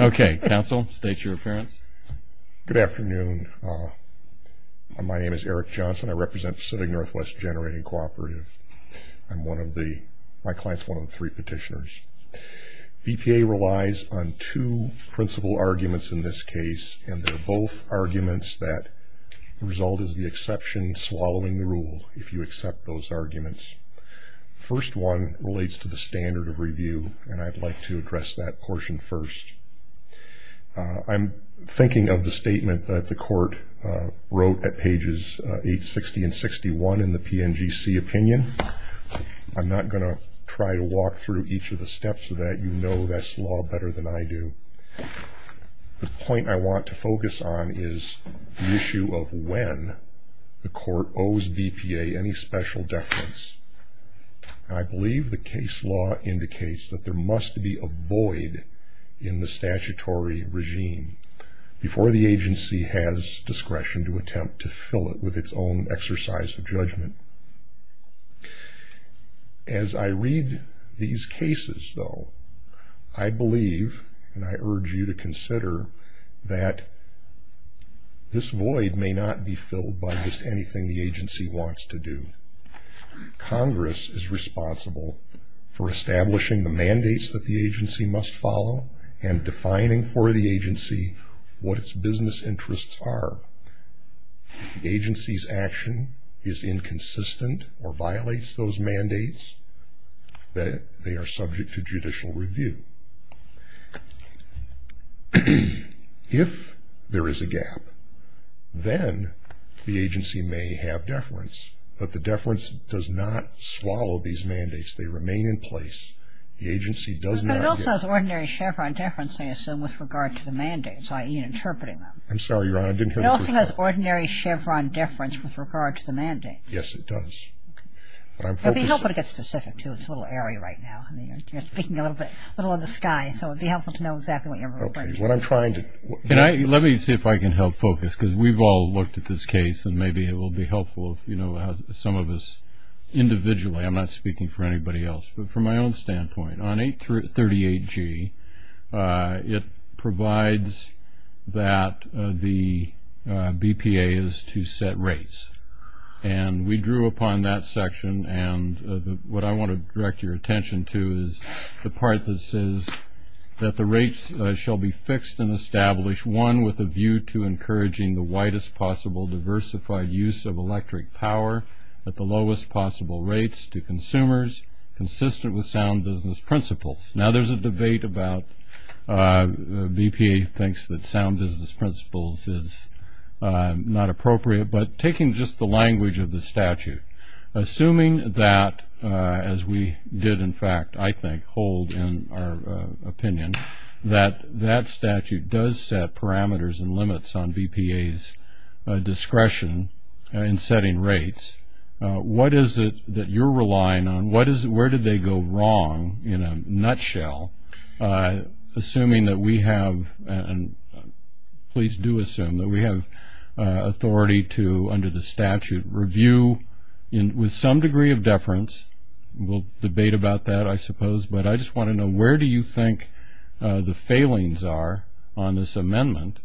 Okay. Counsel, state your appearance. Good afternoon. My name is Eric Johnson. I represent Pacific Northwest Generating Cooperative. I'm one of the, my client's one of the three petitioners. BPA relies on two principal arguments in this case and they're both arguments that result is the exception swallowing the rule if you accept those arguments. First one relates to the standard of review and I'd like to address that portion first. I'm thinking of the statement that the court wrote at pages 860 and 61 in the PNGC opinion. I'm not going to try to walk through each of the steps so that you know this law better than I do. The point I want to focus on is the issue of when the court owes BPA any special deference. I believe the case law indicates that there must be a void in the statutory regime before the agency has discretion to attempt to fill it with its own exercise of judgment. As I read these cases though, I believe and I urge you to consider that this void may not be filled by just anything the Congress is responsible for establishing the mandates that the agency must follow and defining for the agency what its business interests are. If the agency's action is inconsistent or violates those mandates, then they are subject to judicial review. If there is a gap, then the agency may have deference but the deference does not swallow these mandates. They remain in place. The agency does not get... But it also has ordinary Chevron deference, I assume, with regard to the mandates, i.e. interpreting them. I'm sorry, Your Honor. I didn't hear the first part. It also has ordinary Chevron deference with regard to the mandates. Yes, it does. But I'm focusing... But you don't want to get specific, too. It's a little airy right now. You're speaking a little bit, a little in the sky, so it would be helpful to know exactly what you're referring to. Okay. What I'm trying to... Let me see if I can help focus because we've all looked at this case and maybe it will be helpful if some of us individually... I'm not speaking for anybody else, but from my own standpoint, on 838G, it provides that the BPA is to set rates. And we drew upon that section and what I want to direct your attention to is the part that says that the rates shall be fixed and established, one, with a view to encouraging the widest possible diversified use of electric power at the lowest possible rates to consumers, consistent with sound business principles. Now, there's a debate about BPA thinks that sound business principles is not appropriate, but taking just the language of the statute, assuming that, as we did, in fact, I think, hold in our opinion, that that statute does set parameters and discretion in setting rates, what is it that you're relying on? Where did they go wrong, in a nutshell, assuming that we have, and please do assume, that we have authority to, under the statute, review with some degree of deference. We'll debate about that, I suppose, but I just want to know where do you think the failings are on this amendment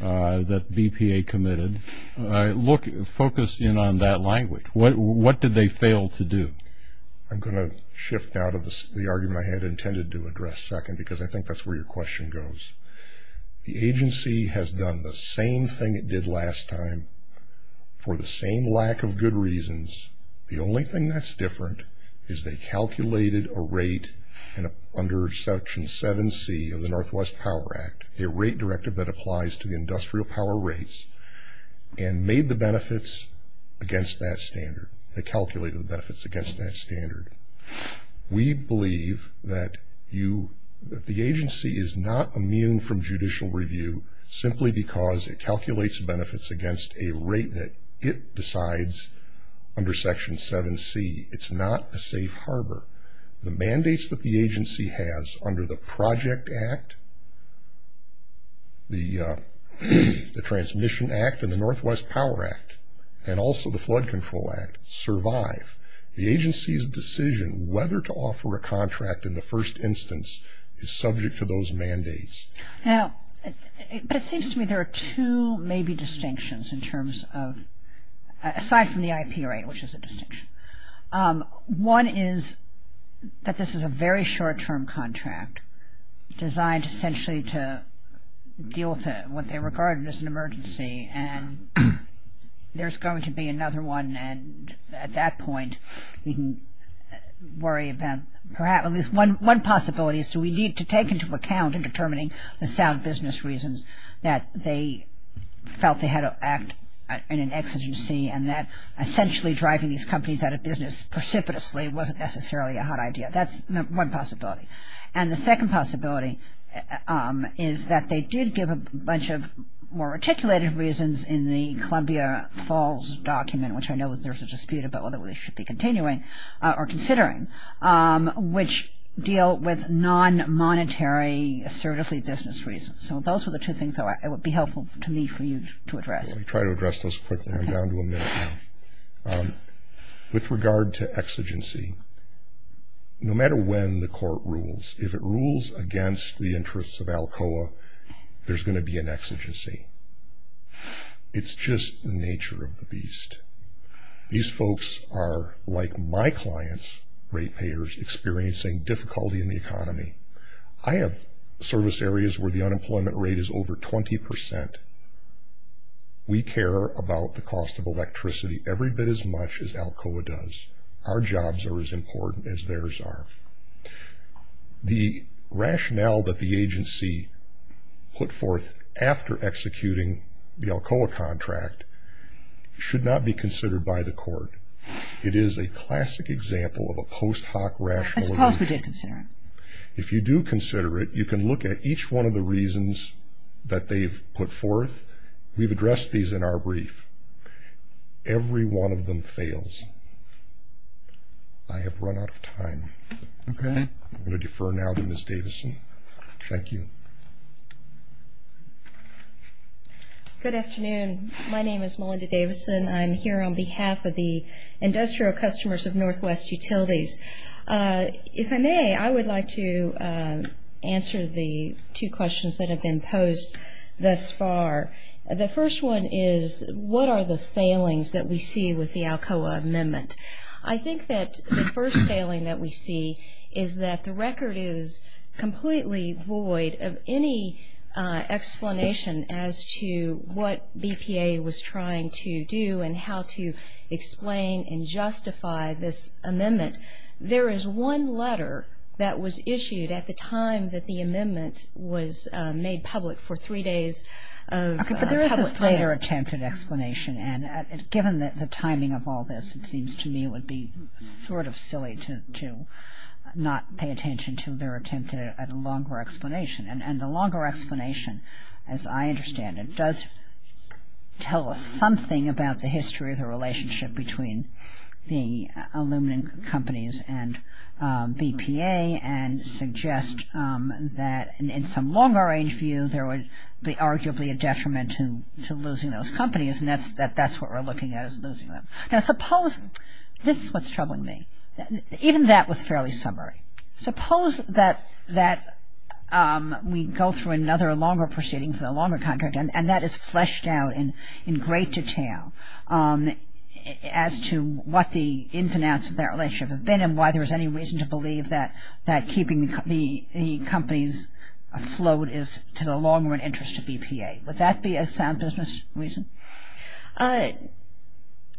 that BPA committed? Look, focus in on that language. What did they fail to do? I'm going to shift out of the argument I had intended to address second because I think that's where your question goes. The agency has done the same thing it did last time for the same lack of good reasons. The only thing that's different is they calculated a rate under Section 7c of the Northwest Power Act, a rate directive that applies to the industrial power rates, and made the benefits against that standard. They calculated the benefits against that standard. We believe that you, that the agency is not immune from judicial review simply because it calculates benefits against a rate that it decides under Section 7c. It's not a safe harbor. The mandates that the agency has under the Project Act, the Transmission Act, and the Northwest Power Act, and also the Flood Control Act, survive. The agency's decision whether to offer a contract in the first instance is subject to those mandates. Now, it seems to me there are two maybe distinctions in terms of, aside from the IP rate, which is a distinction. One is that this is a very short-term contract designed essentially to deal with what they regarded as an emergency and there's going to be another one and at that point you can worry about perhaps, at least one possibility is do we need to take into account in determining the sound business reasons that they felt they had to act in an exegesis and that essentially driving these companies out of business precipitously wasn't necessarily a hot idea. That's one possibility. And the second possibility is that they did give a bunch of more articulated reasons in the Columbia Falls document, which I know there's a dispute about whether we should be continuing or considering, which deal with non-monetary assertive business reasons. So those are the two things that would be helpful to me for you to address. I'll try to address those quickly, I'm down to a minute. With regard to exigency, no matter when the court rules, if it rules against the interests of ALCOA, there's going to be an exigency. It's just the nature of the beast. These folks are, like my clients, rate payers experiencing difficulty in the economy. I have service areas where the unemployment rate is over 20%. We care about the cost of electricity every bit as much as ALCOA does. Our jobs are as important as theirs are. The rationale that the agency put forth after executing the ALCOA contract should not be considered by the court. It is a If you do consider it, you can look at each one of the reasons that they've put forth. We've addressed these in our brief. Every one of them fails. I have run out of time. I'm going to defer now to Ms. Davison. Thank you. Good afternoon. My name is Melinda Davison. I'm here on behalf of the to answer the two questions that have been posed thus far. The first one is, what are the failings that we see with the ALCOA amendment? I think that the first failing that we see is that the record is completely void of any explanation as to what BPA was trying to do and how to explain and justify this amendment. There is one letter that was issued at the time that the amendment was made public for three days. There is a later attempt at explanation and given the timing of all this, it seems to me it would be sort of silly to not pay attention to their attempt at a longer explanation. And the longer explanation, as I understand it, does tell us something about the history of the relationship between the aluminum companies and BPA and suggests that in some longer range view, there was arguably a detriment to losing those companies and that's what we're looking at. Now, suppose this is what's troubling me. Even that was fairly summary. Suppose that we go through another longer proceedings, a longer contract, and that is fleshed out in great detail as to what the ins and outs of that relationship have been and why there's any reason to believe that keeping the companies afloat is to the long run interest of BPA. Would that be a sound business reason?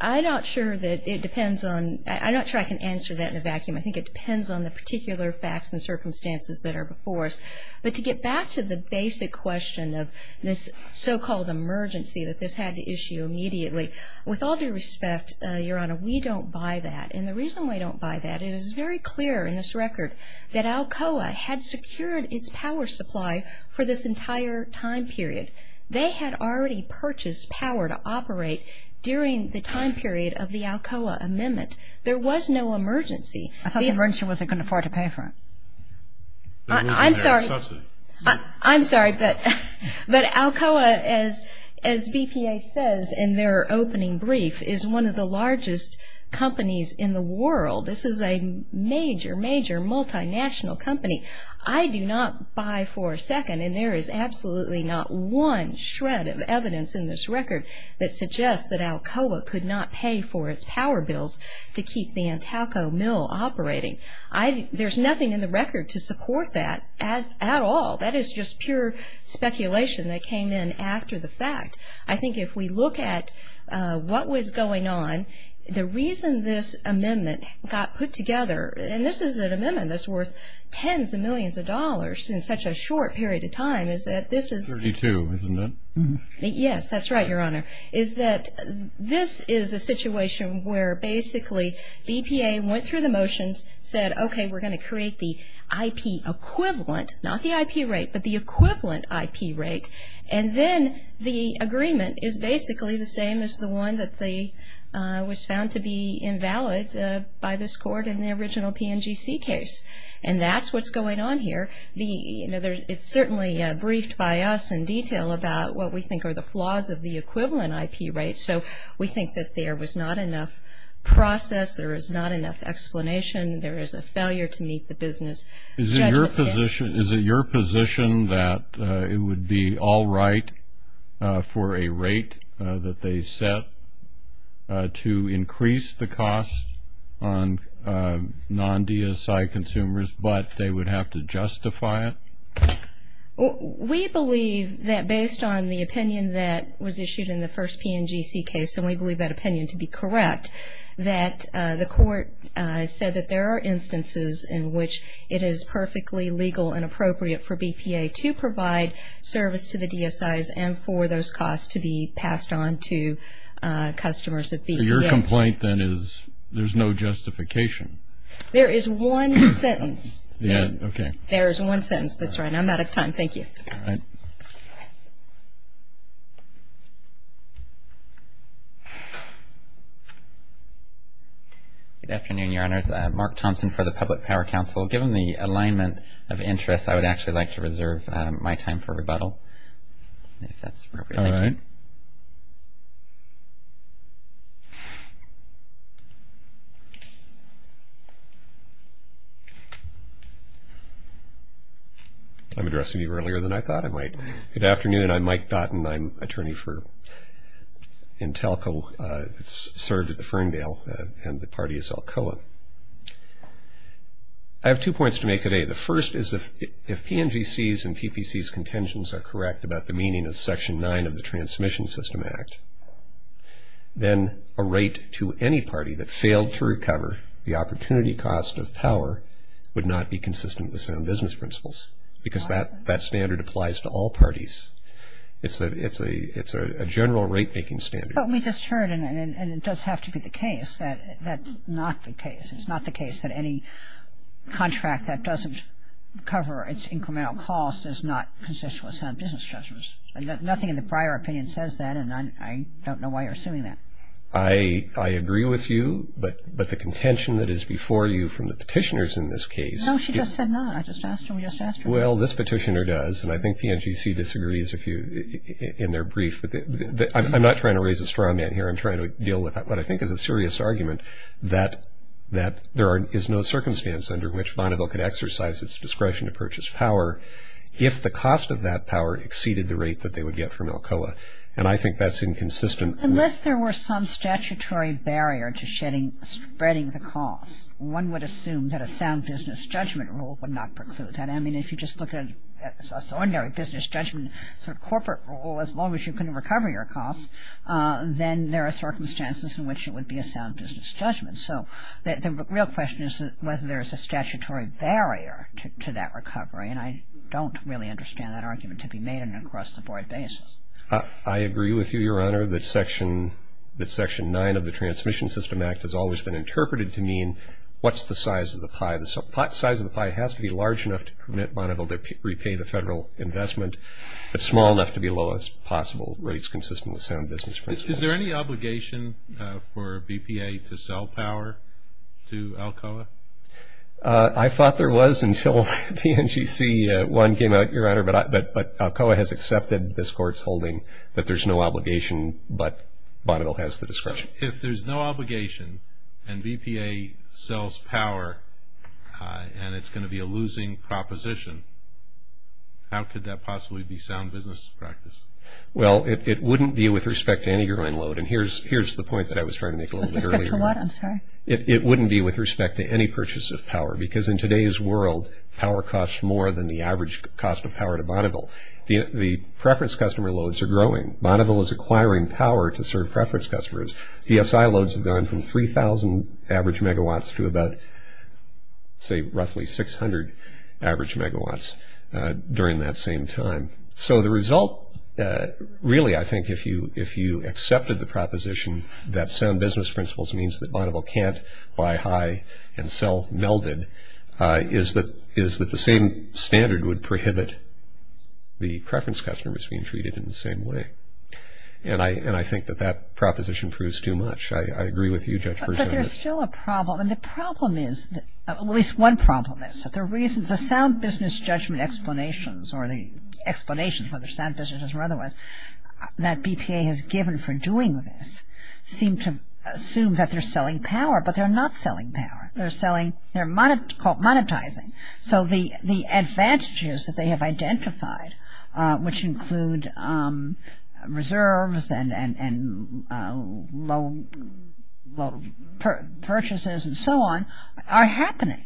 I'm not sure that it depends on, I'm not sure I can answer that in a vacuum. I think it depends on the particular facts and circumstances that are before us. But to get back to the basic question of this so-called emergency that this had to issue immediately, with all due respect, Your Honor, we don't buy that. And the reason we don't buy that is it's very clear in this record that Alcoa had secured its power supply for this entire time period. They had already purchased power to operate during the time period of the Alcoa Amendment. There was no emergency. I thought the emergency wasn't going to afford to pay for it. I'm sorry. I'm sorry. But Alcoa, as BPA says in their opening brief, is one of the largest companies in the world. This is a major, major multinational company. I do not buy for a second, and there is absolutely not one shred of evidence in this record that suggests that Alcoa could not pay for its power bills to keep the Alcoa mill operating. There's nothing in the record to support that at all. That is just pure speculation that came in after the fact. I think if we look at what was going on, the reason this amendment got put together, and this is an amendment that's worth tens of millions of dollars in such a short period of time, is that this is... Thirty-two, isn't it? Yes, that's right, Your Honor, is that this is a situation where basically BPA went through the motions, said, OK, we're going to create the IP equivalent, not the IP rate, but the equivalent IP rate. And then the agreement is basically the same as the one that was found to be invalid by this court in the original PNGC case. And that's what's going on here. It's certainly briefed by us in what we think are the flaws of the equivalent IP rate. So we think that there was not enough process, there is not enough explanation, there is a failure to meet the business... Is it your position that it would be all right for a rate that they set to increase the cost on non-DSI consumers, but they would have to justify it? We believe that based on the opinion that was issued in the first PNGC case, and we believe that opinion to be correct, that the court said that there are instances in which it is perfectly legal and appropriate for BPA to provide service to the DSIs and for those costs to be passed on to customers that... So your complaint then is there's no justification? There is one sentence. Yeah, OK. There's one sentence. That's right. I'm out of time. Thank you. Good afternoon, Your Honors. Mark Thompson for the Public Power Council. Given the alignment of interest, I would actually like to reserve my time for rebuttal. I'm addressing you earlier than I thought I might. Good afternoon. I'm Mike Dotton. I'm attorney for Intelco, served at the Ferndale, and the party is Alcoa. I have two points to make today. The first is if PNGCs and PPCs' contentions are correct about the meaning of Section 9 of the Transmission System Act, then a rate to any party that failed to recover the opportunity cost of power would not be consistent with their own business principles, because that standard applies to all parties. It's a general rate-making standard. But we just heard, and it does have to be the case, that that's not the case. It's not the case that any contract that doesn't cover its incremental cost is not consensual in some business judgments. And nothing in the prior opinion says that, and I don't know why you're assuming that. I agree with you, but the contention that is before you from the petitioners in this case... No, she just said no. I just asked her. We just asked her. Well, this petitioner does, and I think PNGC disagrees in their brief. But I'm not trying to raise a straw man here. I'm trying to deal with what I think is a serious argument that there is no circumstance under which Bonneville can exercise its discretion to purchase power if the cost of that power exceeded the rate that they would get from Alcoa. And I think that's inconsistent. Unless there were some statutory barrier to spreading the cost, one would assume that a sound business judgment rule would not preclude that. I mean, if you just look at a business judgment corporate rule, as long as you can recover your costs, then there are circumstances in which it would be a sound business judgment. So the real question is whether there is a statutory barrier to that recovery. And I don't really understand that argument to be made on an across the board basis. I agree with you, Your Honor, that Section 9 of the Transmission System Act has always been interpreted to mean what's the size of the pie. The size of the pie has to be large enough to permit Bonneville to repay the federal investment. It's small enough to be lowest possible rates consistent with sound business principles. Is there any obligation for BPA to sell power to Alcoa? I thought there was until PNGC 1 came out, Your Honor, but Alcoa has accepted this Court's holding that there's no obligation, but Bonneville has the discretion. If there's no obligation and BPA sells power and it's going to be a losing proposition, how could that possibly be sound business practice? Well, it wouldn't be with respect to any growing load. And here's the point that I was trying to make a little bit earlier. It wouldn't be with respect to any purchase of power because in today's world, power costs more than the average cost of power to Bonneville. The preference customer loads are growing. Bonneville is acquiring power to serve preference customers. ESI loads have gone from 3,000 average megawatts to about say roughly 600 average megawatts during that same time. So the result, really, I think if you accepted the proposition that sound business principles means that Bonneville can't buy high and sell melded is that the same standard would prohibit the preference customers being treated in the same way. And I think that that proposition proves too much. I agree with you. But there's still a problem. And the problem is, at least one problem is that the reason the sound business judgment explanations or the explanation for the sound business or otherwise that BPA has given for doing this seem to assume that they're selling power, but they're not selling power. They're selling, they're called monetizing. So the advantages that they have identified, which include reserves and low purchases and so on, are happening.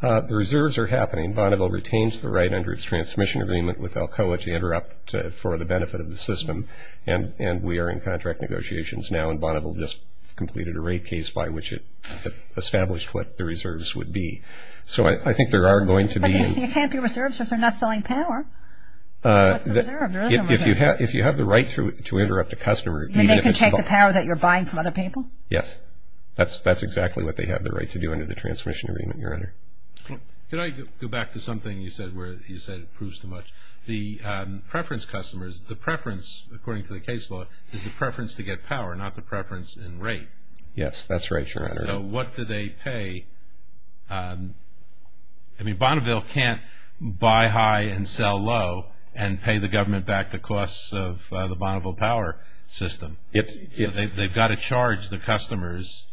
The reserves are happening. Bonneville retains the right under its transmission agreement with Alcoa to interrupt for the benefit of the system. And we are in contract negotiations now and Bonneville just completed a rate case by which it established what the reserves would be. So I think there are going to be you can't be reserved. So if they're not selling power, if you have if you have the right to interrupt the customer, you can take the power that you're buying from other people. Yes, that's that's exactly what they have the right to do under the transmission agreement. Your Honor. Can I go back to something you said where you said it proves too much the preference customers, the preference, according to the case law, is the preference to get power, not the preference in rate. Yes, that's right. So what do they pay? I mean, Bonneville can't buy high and sell low and pay the government back the costs of the Bonneville power system. If they've got to charge the customers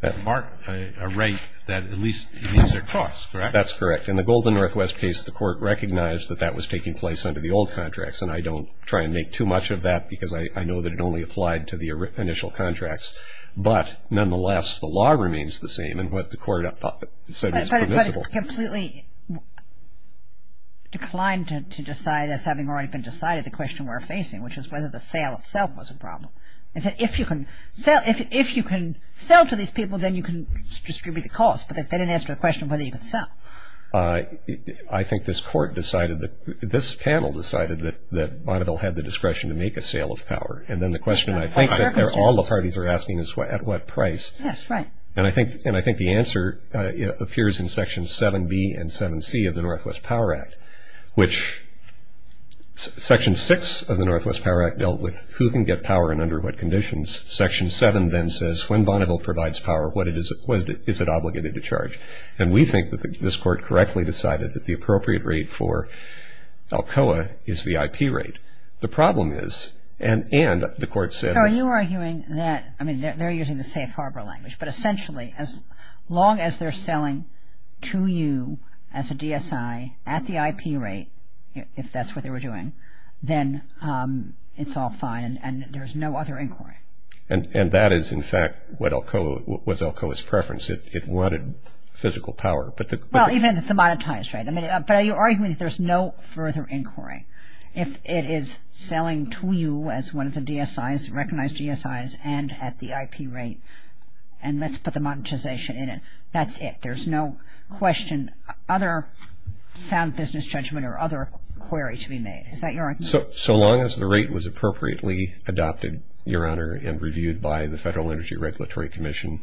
that mark a rate that at least their costs. That's correct. In the Golden Northwest case, the court recognized that that was taking place under the old contracts. And I don't try and make too much of that because I know that it only applied to the initial contracts. But nonetheless, the law remains the same. And what the court said is completely. Declined to decide if having already been decided, the question we're facing, which is whether the sale itself was a problem. And if you can sell if you can sell to these people, then you can distribute the cost. But that didn't answer the question whether you can sell. I think this court decided that this panel decided that that Bonneville had the discretion to make a sale of power. And then the question I think that all the parties are asking is what at what price. And I think and I think the answer appears in Section 7B and 7C of the Northwest Power Act, which Section six of the Northwest Power Act dealt with who can get power and under what conditions. Section seven then says when Bonneville provides power, what it is, what is it obligated to charge? And we think that this court correctly decided that the appropriate rate for Alcoa is the IP rate. The problem is. And and the court said, are you arguing that I mean, they're using the safe harbor language, but essentially as long as they're selling to you as a DSI at the IP rate, if that's what they were doing, then it's all fine and there's no other inquiry. And that is, in fact, what Alcoa was Alcoa's preference. It wanted physical power. But well, even if the monetized rate, I mean, are you arguing that there's no further inquiry if it is selling to you as one of the DSIs, recognized DSIs and at the IP rate and let's put the monetization in it? That's it. There's no question. Other sound business judgment or other query to be made. Is that your so so long as the rate was appropriately adopted, your honor, and reviewed by the Federal Energy Regulatory Commission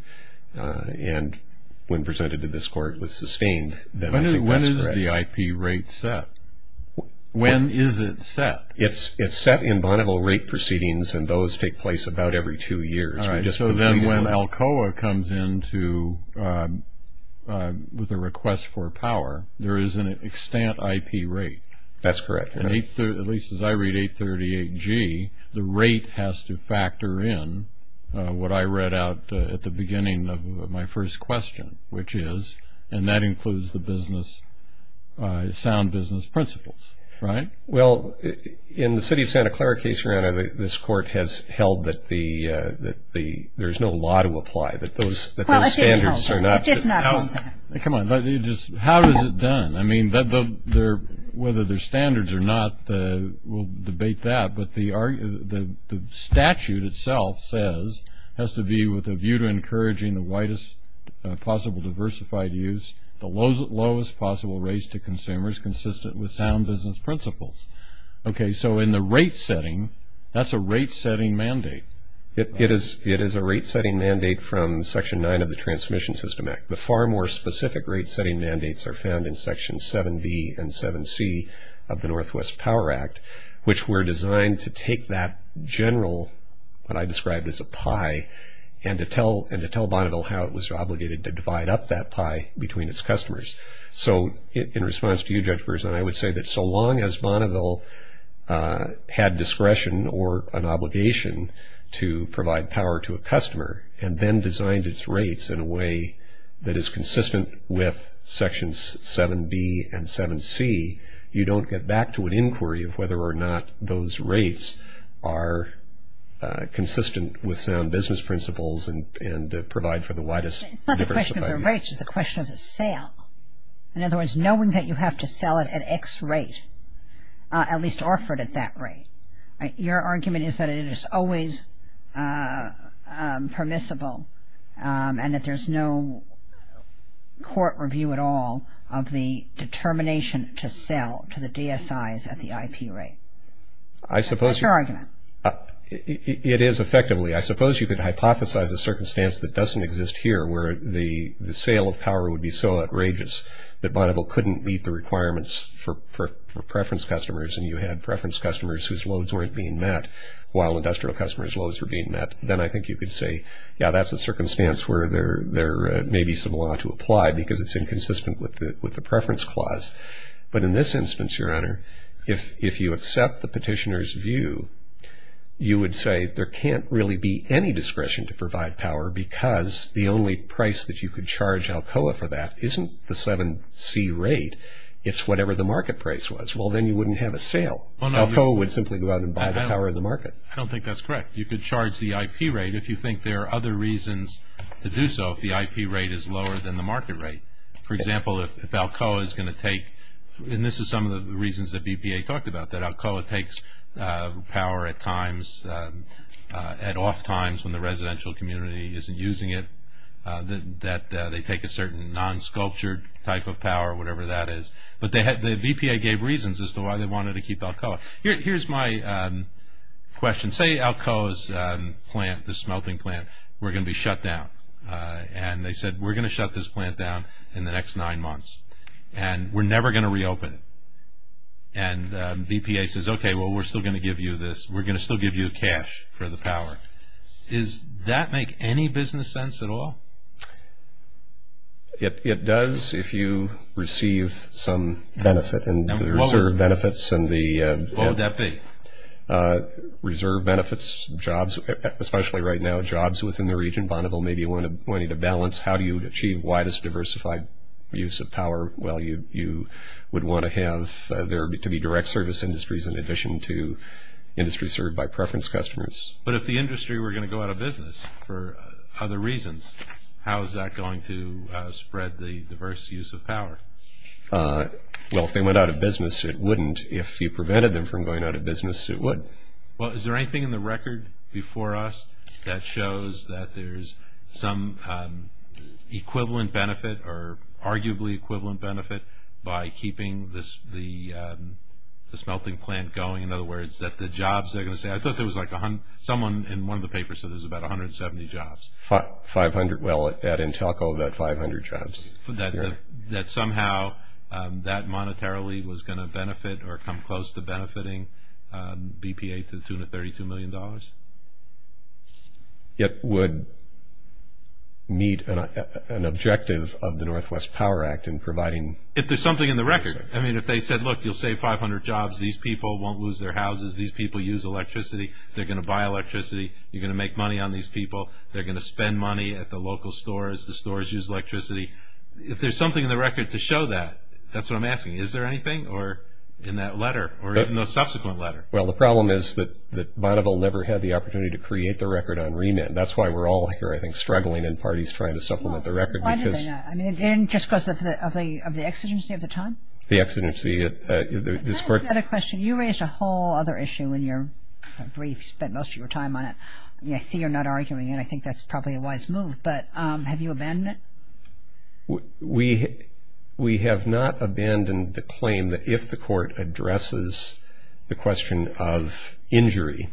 and when presented to this court was sustained. When is the IP rate set? When is it set? It's it's set in bondable rate proceedings and those take place about every two years. So then when Alcoa comes in to with a request for power, there is an extent IP rate. That's correct. And at least as I read 838 G, the rate has to factor in what I read out at the beginning of my first question, which is and that includes the business sound business principles. Right. Well, in the city of Santa Clara case, this court has held that the that the there's no law to apply that those standards are not. Come on. How is it done? I mean, whether there's standards or not, we'll debate that. But the the statute itself says has to be with a view to encouraging the widest possible diversified use, the lowest lowest possible race to consumers consistent with sound business principles. OK, so in the rate setting, that's a rate setting mandate. It is. It is a rate setting mandate from Section 9 of the Transmission System Act. The far more specific rate setting mandates are found in Section 7B and 7C of the Northwest Power Act, which were designed to take that general what I described as a pie and to tell and to tell Bonneville how it was obligated to divide up that pie between its customers. So in response to you, Judge Burson, I would say that so long as Bonneville had discretion or an obligation to provide power to a customer and then designed its rates in a way that is whether or not those rates are consistent with sound business principles and provide for the widest. The question of the sale, in other words, knowing that you have to sell it at X rate, at least offered at that rate. Your argument is that it is always permissible and that there's no court review at all of the IP rate. I suppose it is effectively. I suppose you could hypothesize a circumstance that doesn't exist here where the sale of power would be so outrageous that Bonneville couldn't meet the requirements for preference customers. And you had preference customers whose loads weren't being met while industrial customers' loads were being met. Then I think you could say, yeah, that's a circumstance where there may be some law to apply because it's inconsistent with the preference clause. But in this instance, Your Honor, if you accept the petitioner's view, you would say there can't really be any discretion to provide power because the only price that you could charge Alcoa for that isn't the 7C rate. It's whatever the market price was. Well, then you wouldn't have a sale. Alcoa would simply go out and buy the power of the market. I don't think that's correct. You could charge the IP rate if you think there are other reasons to do so. If the IP rate is lower than the market rate. For example, if Alcoa is going to take, and this is some of the reasons that BPA talked about, that Alcoa takes power at times, at off times when the residential community isn't using it, that they take a certain non-sculptured type of power, whatever that is. But the BPA gave reasons as to why they wanted to keep Alcoa. Here's my question. Say Alcoa's plant, the smelting plant, were going to be shut down. And they said, we're going to shut this plant down in the next nine months. And we're never going to reopen it. And BPA says, okay, well, we're still going to give you this. We're going to still give you cash for the power. Does that make any business sense at all? It does if you receive some benefit and the reserve benefits and the. What would that be? Reserve benefits, jobs, especially right now, jobs within the region. Bonneville maybe wanted a balance. How do you achieve widest diversified use of power? Well, you would want to have there to be direct service industries in addition to industries served by preference customers. But if the industry were going to go out of business for other reasons, how is that going to spread the diverse use of power? Well, if they went out of business, it wouldn't. If you prevented them from going out of business, it would. Well, is there anything in the record before us that shows that there's some equivalent benefit or arguably equivalent benefit by keeping the smelting plant going? In other words, that the jobs they're going to say, I thought there was like someone in one of the papers said there's about 170 jobs. Five hundred. Well, at Entelco, about 500 jobs. That somehow that monetarily was going to benefit or come close to benefiting BPA to the tune of $32 million? It would meet an objective of the Northwest Power Act in providing. If there's something in the record. I mean, if they said, look, you'll save 500 jobs. These people won't lose their houses. These people use electricity. They're going to buy electricity. You're going to make money on these people. They're going to spend money at the local stores. The stores use electricity. If there's something in the record to show that, that's what I'm asking. Is there anything or in that letter or in the subsequent letter? Well, the problem is that Bonneville never had the opportunity to create the record on remit. That's why we're all here, I think, struggling in parties trying to supplement the record. Why did they not? I mean, just because of the exigency of the time? The exigency. Is that a question? You raised a whole other issue in your brief, spent most of your time on it. I see you're not arguing it. I think that's probably a wise move, but have you abandoned it? We have not abandoned the claim that if the court addresses the question of injury,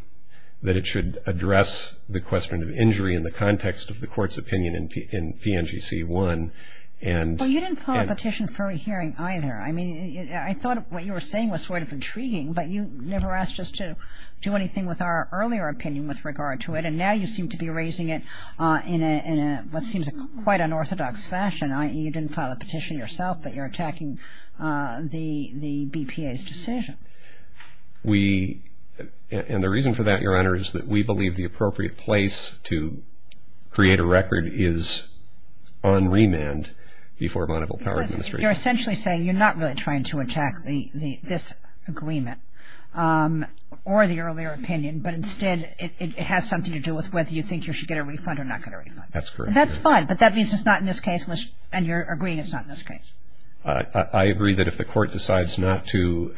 that it should address the question of injury in the context of the court's opinion in PNGC 1 and. Well, you didn't file a petition for a hearing either. I mean, I thought what you were saying was sort of intriguing, but you never asked us to do anything with our earlier opinion with regard to it. And now you seem to be raising it in what seems quite unorthodox fashion, i.e. you didn't file a petition yourself, but you're attacking the BPA's decision. We, and the reason for that, Your Honor, is that we believe the appropriate place to create a record is on remand before Bonneville Power Administration. You're essentially saying you're not really trying to attack this agreement or the earlier opinion, but instead it has something to do with whether you think you should get a refund or not get a refund. That's correct. That's fine, but that means it's not in this case, and you're agreeing it's not in this case. I agree that if the court decides not to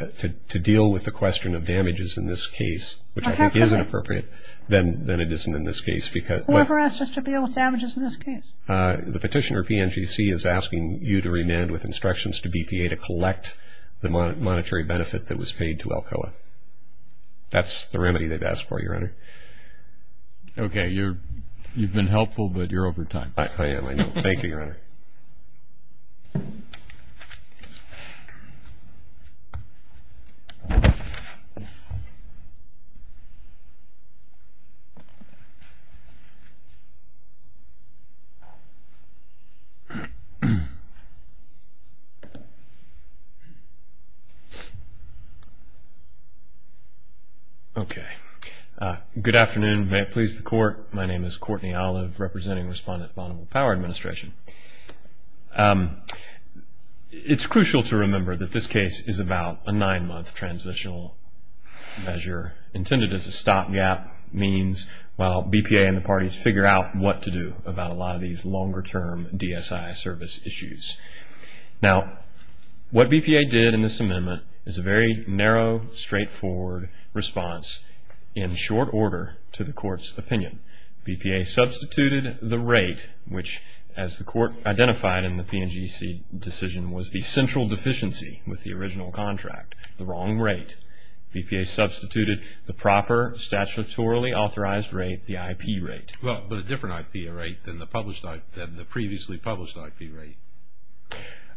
deal with the question of damages in this case, which I think is appropriate, then it isn't in this case because. Who ever asked us to deal with damages in this case? The petitioner, PNGC, is asking you to remand with instructions to BPA to collect the monetary benefit that was paid to Alcoa. That's the remedy they've asked for, Your Honor. Okay. You've been helpful, but you're over time. I am. Thank you, Your Honor. Okay. Good afternoon. May it please the court. My name is Courtney Olive, representing Respondent Bonneville Power Administration. It's crucial to remember that this case is about a nine-month transitional measure intended as a stopgap means while BPA and the parties figure out what to do about a lot of these longer-term DSI service issues. Now, what BPA did in this amendment is a very narrow, straightforward response in short order to the court's opinion. BPA substituted the rate, which as the court identified in the PNGC decision was a central deficiency with the original contract, the wrong rate. BPA substituted the proper statutorily authorized rate, the IP rate. Well, a different IP rate than the previously published IP rate.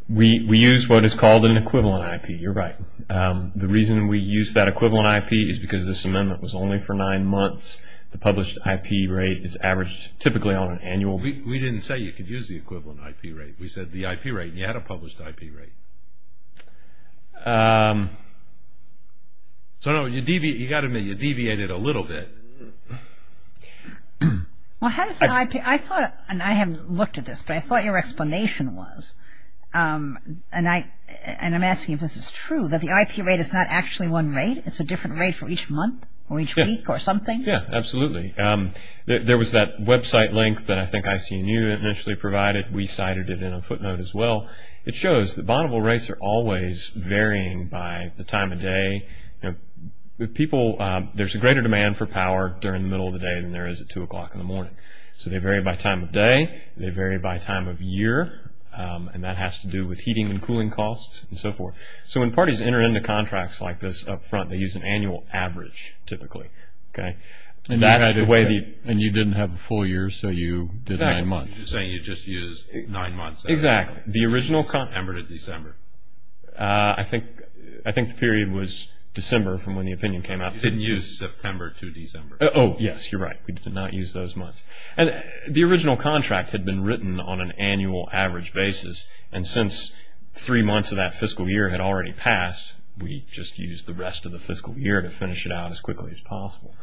We use what is called an equivalent IP. You're right. The reason we use that equivalent IP is because this amendment was only for nine months. The published IP rate is averaged typically on an annual basis. We didn't say you could use the equivalent IP rate. We said the IP rate, and you had a published IP rate. So, no, you got to admit, you deviated a little bit. Well, how does an IP, I thought, and I haven't looked at this, but I thought your explanation was, and I'm asking if this is true, that the IP rate is not actually one rate. It's a different rate for each month or each week or something? Yeah, absolutely. There was that website link that I think IC&U initially provided. We cited it in a footnote as well. It shows that vulnerable rates are always varying by the time of day. With people, there's a greater demand for power during the middle of the day than there is at 2 o'clock in the morning. So, they vary by time of day. They vary by time of year, and that has to do with heating and cooling costs and so forth. So, when parties enter into contracts like this up front, they use an annual average typically, okay? And that's the way that you. And you didn't have a full year, so you did a month. You're saying you just used nine months. Exactly. The original. September to December. I think the period was December from when the opinion came out. You didn't use September to December. Oh, yes, you're right. We did not use those months. And the original contract had been written on an annual average basis, and since three months of that fiscal year had already passed, we just used the rest of the fiscal year to finish it out as quickly as possible.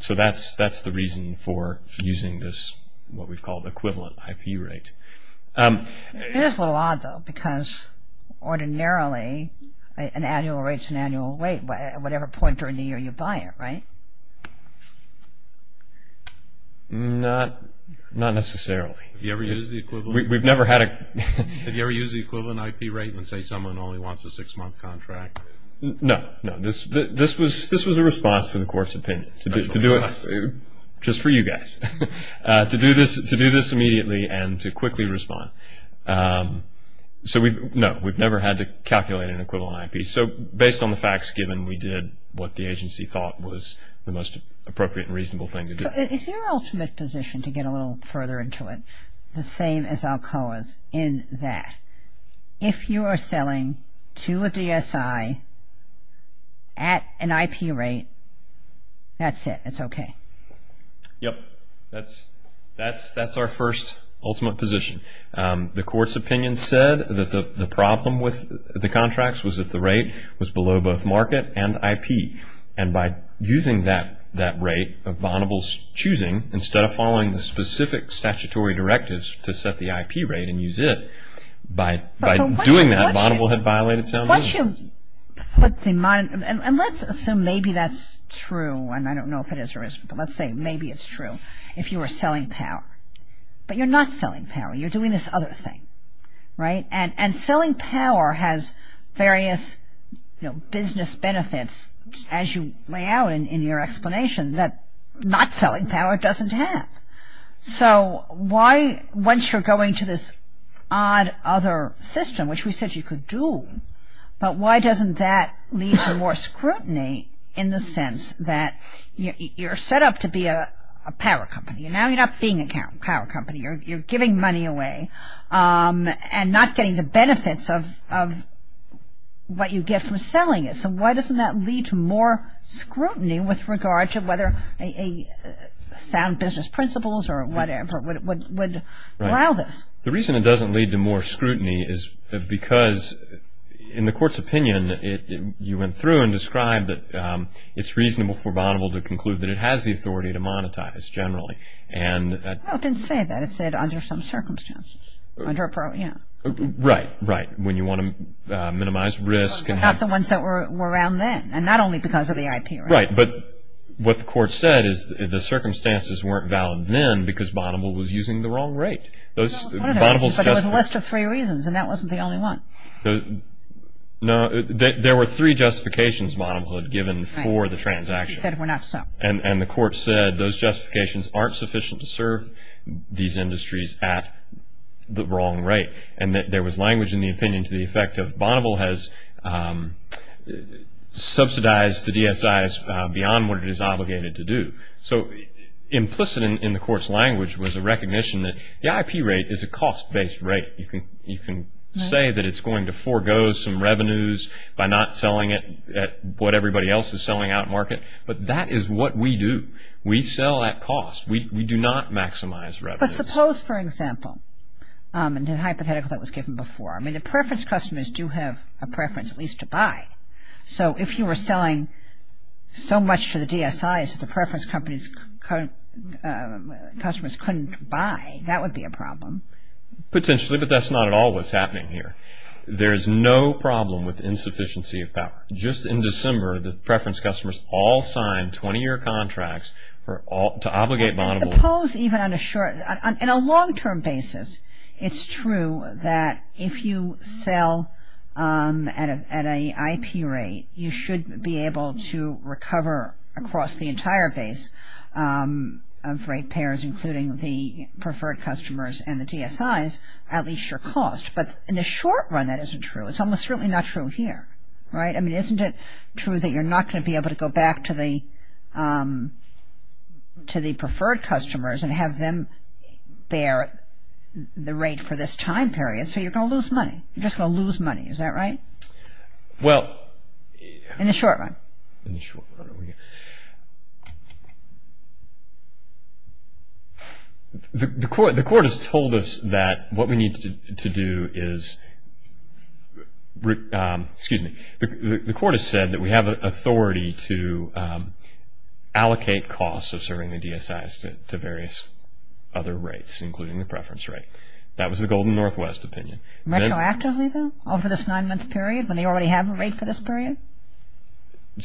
So, that's the reason for using this, what we've called equivalent IP rate. It is a little odd, though, because ordinarily, an annual rate's an annual rate at whatever point during the year you buy it, right? Not necessarily. Have you ever used the equivalent? We've never had a. Have you ever used the equivalent IP rate and say someone only wants a six-month contract? No, no. This was a response to the court's opinion. To do it just for you guys. To do this immediately and to quickly respond. So, we've, no, we've never had to calculate an equivalent IP. So, based on the facts given, we did what the agency thought was the most appropriate and reasonable thing to do. Is your ultimate position, to get a little further into it, the same as Alcoa's, is that if you are selling to a DSI at an IP rate, that's it, it's okay? Yep. That's our first ultimate position. The court's opinion said that the problem with the contracts was that the rate was below both market and IP. And by using that rate of Vonneble's choosing, instead of following the specific statutory directives to set the IP rate and use it, by doing that, Vonneble had violated his own. Why don't you put the, and let's assume maybe that's true, and I don't know if it is or isn't, but let's say maybe it's true, if you were selling power. But you're not selling power. You're doing this other thing, right? And selling power has various, you know, business benefits as you lay out in your explanation that not selling power doesn't have. So, why, once you're going to this odd other system, which we said you could do, but why doesn't that lead to more scrutiny in the sense that you're set up to be a power company. Now you're not being a power company. You're giving money away and not getting the benefits of what you get from selling it. So, why doesn't that lead to more scrutiny with regards to whether a sound business principles or whatever would allow this? The reason it doesn't lead to more scrutiny is because in the court's opinion, you went through and described that it's reasonable for Vonneble to conclude that it has the authority to monetize, generally. And. Well, it didn't say that. It said under some circumstances, under a pro, yeah. Right, right. When you want to minimize risk and have. Not the ones that were around then and not only because of the IP, right? Right, but what the court said is the circumstances weren't valid then because Vonneble was using the wrong rate. Those, Vonneble's just. But it was a list of three reasons and that wasn't the only one. The, no, there were three justifications Vonneble had given for the transaction. He said were not so. And the court said those justifications aren't sufficient to serve these industries at the wrong rate. And that there was language in the opinion to the effect that Vonneble has subsidized the DSIs beyond what it is obligated to do. So, implicit in the court's language was a recognition that the IP rate is a cost-based rate. You can say that it's going to forego some revenues by not selling it at what everybody else is selling out market. But that is what we do. We sell at cost. We do not maximize revenues. But suppose, for example, and the hypothetical that was given before. I mean, the preference customers do have a preference at least to buy. So, if you were selling so much to the DSIs that the preference companies couldn't, customers couldn't buy, that would be a problem. Potentially, but that's not at all what's happening here. There's no problem with insufficiency of power. Just in December, the preference customers all signed 20-year contracts to obligate Vonneble. Suppose even on a short, in a long-term basis, it's true that if you sell at an IP rate, you should be able to recover across the entire base of rate payers, including the preferred customers and the DSIs, at least your cost. But in the short run, that isn't true. It's almost certainly not true here, right? I mean, isn't it true that you're not going to be able to go back to the preferred customers and have them bear the rate for this time period? So, you're going to lose money. You're just going to lose money. Is that right? In the short run. The court has told us that what we need to do is, excuse me, the court has said that we have authority to allocate costs of serving the DSIs to various other rates, including the preference rate. That was the Golden Northwest opinion. Retroactively, though, over this nine-month period, when they already have a rate for this period?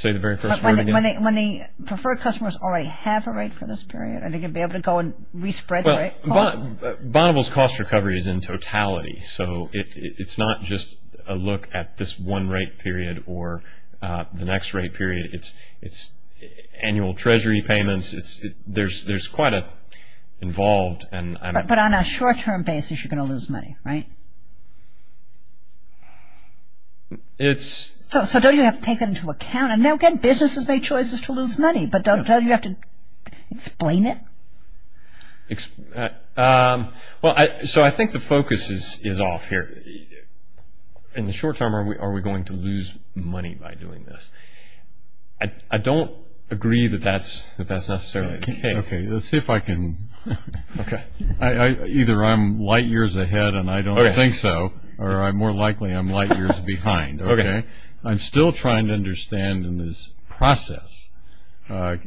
When the preferred customers already have a rate for this period? Are they going to be able to go and re-spread the rate? Well, Bonneville's cost recovery is in totality. So, it's not just a look at this one rate period or the next rate period. It's annual treasury payments. There's quite a involved and I'm But on a short-term basis, you're going to lose money, right? It's So, don't you have to take that into account? And, again, businesses make choices to lose money. But don't you have to explain it? Well, so, I think the focus is off here. In the short term, are we going to lose money by doing this? I don't agree that that's necessarily the case. Okay. Let's see if I can. Okay. Either I'm light years ahead and I don't think so, or I'm more likely I'm light years behind. Okay. I'm still trying to understand in this process, the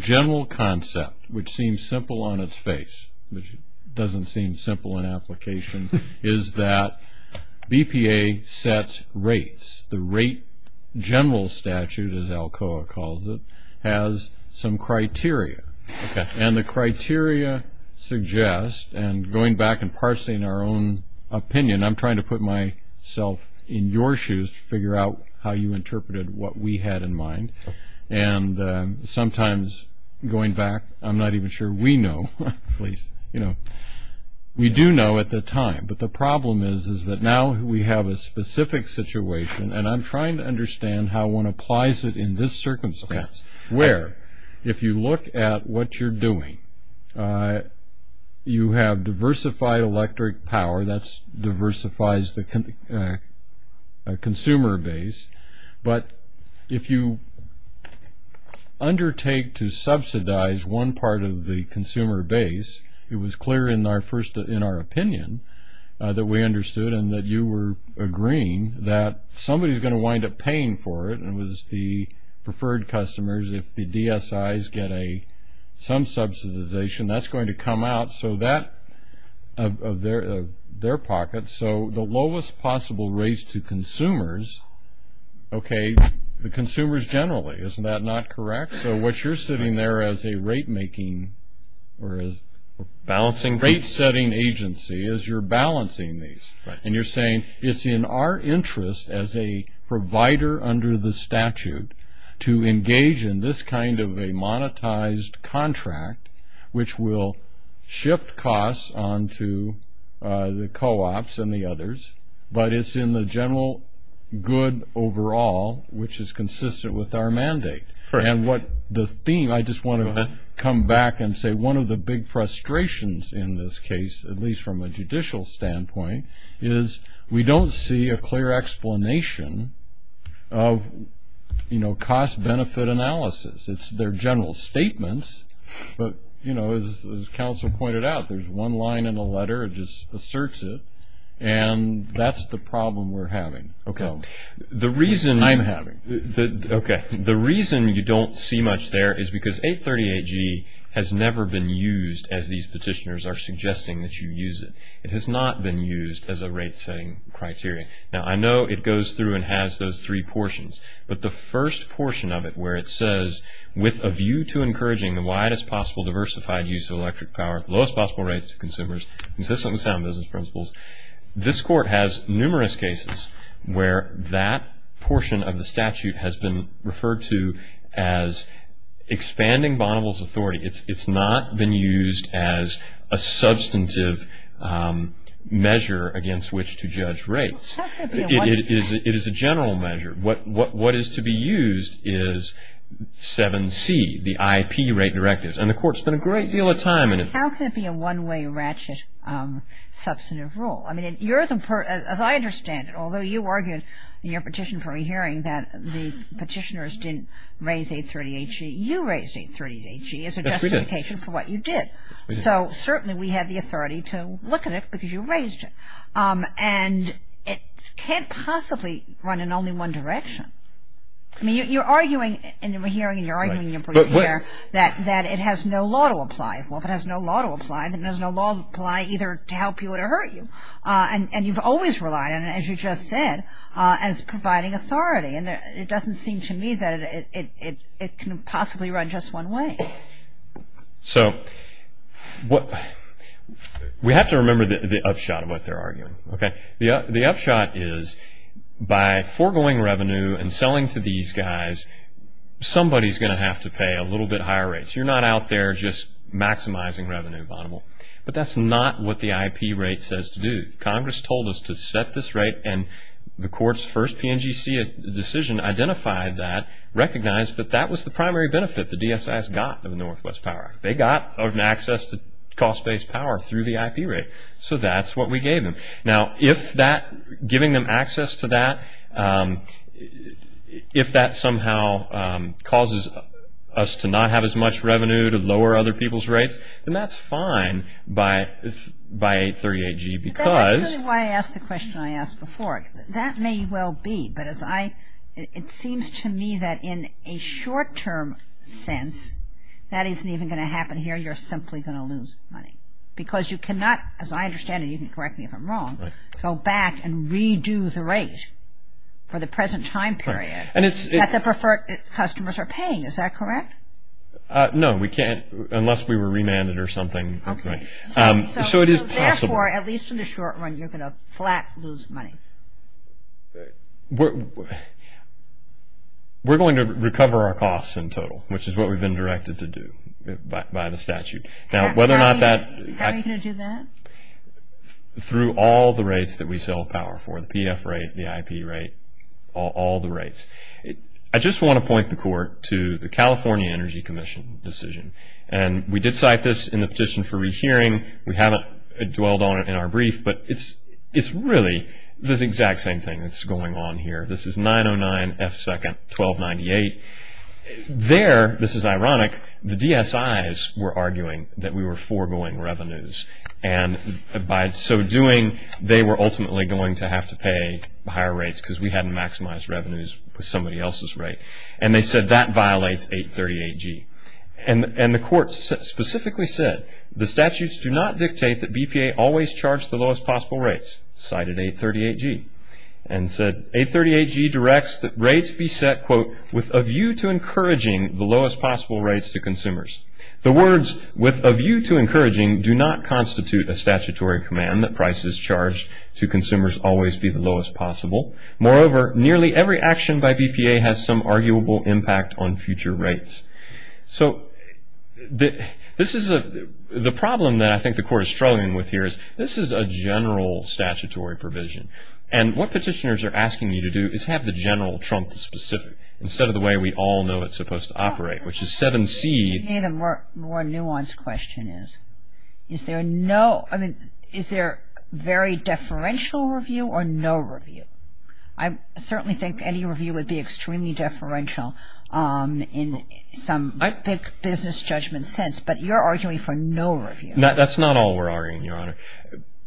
general concept, which seems simple on its face, which doesn't seem simple in application, is that BPA sets rates. The rate general statute, as Alcoa calls it, has some criteria. Okay. And the criteria suggest, and going back and parsing our own opinion, I'm trying to put myself in your shoes to figure out how you interpreted what we had in mind. And sometimes, going back, I'm not even sure we know, at least, you know, we do know at the time. But the problem is, is that now we have a specific situation. And I'm trying to understand how one applies it in this circumstance, where if you look at what you're doing, you have diversified electric power. That diversifies the consumer base. But if you undertake to subsidize one part of the consumer base, it was clear in our first, in our opinion, that we understood and that you were agreeing that somebody's going to wind up paying for it, and it was the preferred customers. If the DSIs get a, some subsidization, that's going to come out. So that, of their pocket, so the lowest possible rates to consumers, okay, the consumers generally, isn't that not correct? So what you're sitting there as a rate making, or as a rate setting agency, is you're balancing these. And you're saying, it's in our interest as a provider under the statute to engage in this kind of a monetized contract, which will shift costs onto the co-ops and the others. But it's in the general good overall, which is consistent with our mandate. And what the theme, I just want to come back and say, one of the big frustrations in this case, at least from a judicial standpoint, is we don't see a clear explanation of, you know, cost benefit analysis. It's, they're general statements, but, you know, as counsel pointed out, there's one line in the letter, it just asserts it, and that's the problem we're having. Okay. The reason I'm having, okay, the reason you don't see much there is because 838G has never been used as these petitioners are suggesting that you use it. It has not been used as a rate setting criteria. Now, I know it goes through and has those three portions, but the first portion of it where it says, with a view to encouraging the widest possible diversified use of electric power, lowest possible rates to consumers, consistent with sound business principles, this court has numerous cases where that portion of the statute has been referred to as expanding bondholders' authority. It's not been used as a substantive measure against which to judge rates. It is a general measure. What is to be used is 7C, the IP rate directive, and the court spent a great deal of time in it. How can it be a one-way ratchet substantive rule? I mean, as I understand it, although you argued in your petition for re-hearing that the petitioners didn't raise 838G, you raised 838G as a justification for what you did. So, certainly, we have the authority to look at it because you raised it. And it can't possibly run in only one direction. I mean, you're arguing in the re-hearing and you're arguing that it has no law to apply. Well, if it has no law to apply, then there's no law to apply either to help you or to hurt you. And you've always relied on it, as you just said, as providing authority. And it doesn't seem to me that it can possibly run just one way. So, we have to remember the upshot of what they're arguing, okay? The upshot is by foregoing revenue and selling to these guys, somebody's going to have to pay a little bit higher rates. You're not out there just maximizing revenue, Bonneville. But that's not what the IP rate says to do. Congress told us to set this rate and the court's first PNGC decision identified that, recognized that that was the primary benefit the DSS got in the Northwest Power Act. They got an access to cost-based power through the IP rate. So, that's what we gave them. Now, if that, giving them access to that, if that somehow causes us to not have as much revenue to lower other people's rates, then that's fine by 838G because. That's really why I asked the question I asked before. That may well be, but as I, it seems to me that in a short-term sense, that isn't even going to happen here. You're simply going to lose money because you cannot, as I understand it, you can correct me if I'm wrong, go back and redo the rate for the present time period. That's a preferred, customers are paying. Is that correct? No, we can't unless we were remanded or something. Okay. So, it is possible. Therefore, at least in the short run, you're going to flat lose money. We're going to recover our costs in total, which is what we've been directed to do by the statute. Now, whether or not that. Are you going to do that? Through all the rates that we sell power for, the PF rate, the IP rate, all the rates. I just want to point the court to the California Energy Commission decision. And we did cite this in the petition for rehearing. We haven't dwelled on it in our brief, but it's really the exact same thing that's going on here. This is 909 F2nd 1298. There, this is ironic, the DSIs were arguing that we were foregoing revenues. And by so doing, they were ultimately going to have to pay higher rates because we hadn't maximized revenues with somebody else's rate. And they said that violates 838G. And the court specifically said, the statutes do not dictate that BPA always charge the lowest possible rates, cited 838G. And said, 838G directs that rates be set, quote, with a view to encouraging the lowest possible rates to consumers. The words, with a view to encouraging, do not constitute a statutory command that prices charged to consumers always be the lowest possible. Moreover, nearly every action by BPA has some arguable impact on future rates. So, this is a, the problem that I think the court is struggling with here is, this is a general statutory provision. And what petitioners are asking you to do is have the general trump specific, instead of the way we all know it's supposed to operate, which is 7C. I think the more nuanced question is, is there no, I mean, is there very deferential review or no review? I certainly think any review would be extremely deferential in some business judgment sense. But you're arguing for no review. No, that's not all we're arguing, Your Honor.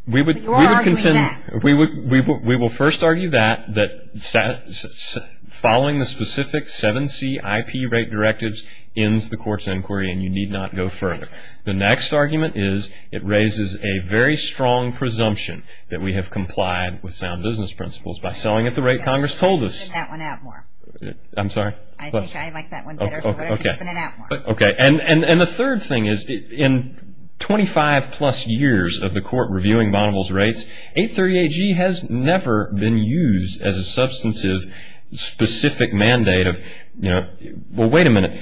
We would, we would contend, we would, we will first argue that, that following the specific 7C IP rate directives ends the court's inquiry and you need not go further. The next argument is, it raises a very strong presumption that we have complied with sound business principles by selling at the rate Congress told us. I think I like that one better, so I'm going to open it up more. Okay. And the third thing is, in 25 plus years of the court reviewing Bonneville's rates, 838G has never been used as a substantive, specific mandate of, you know, well, wait a minute,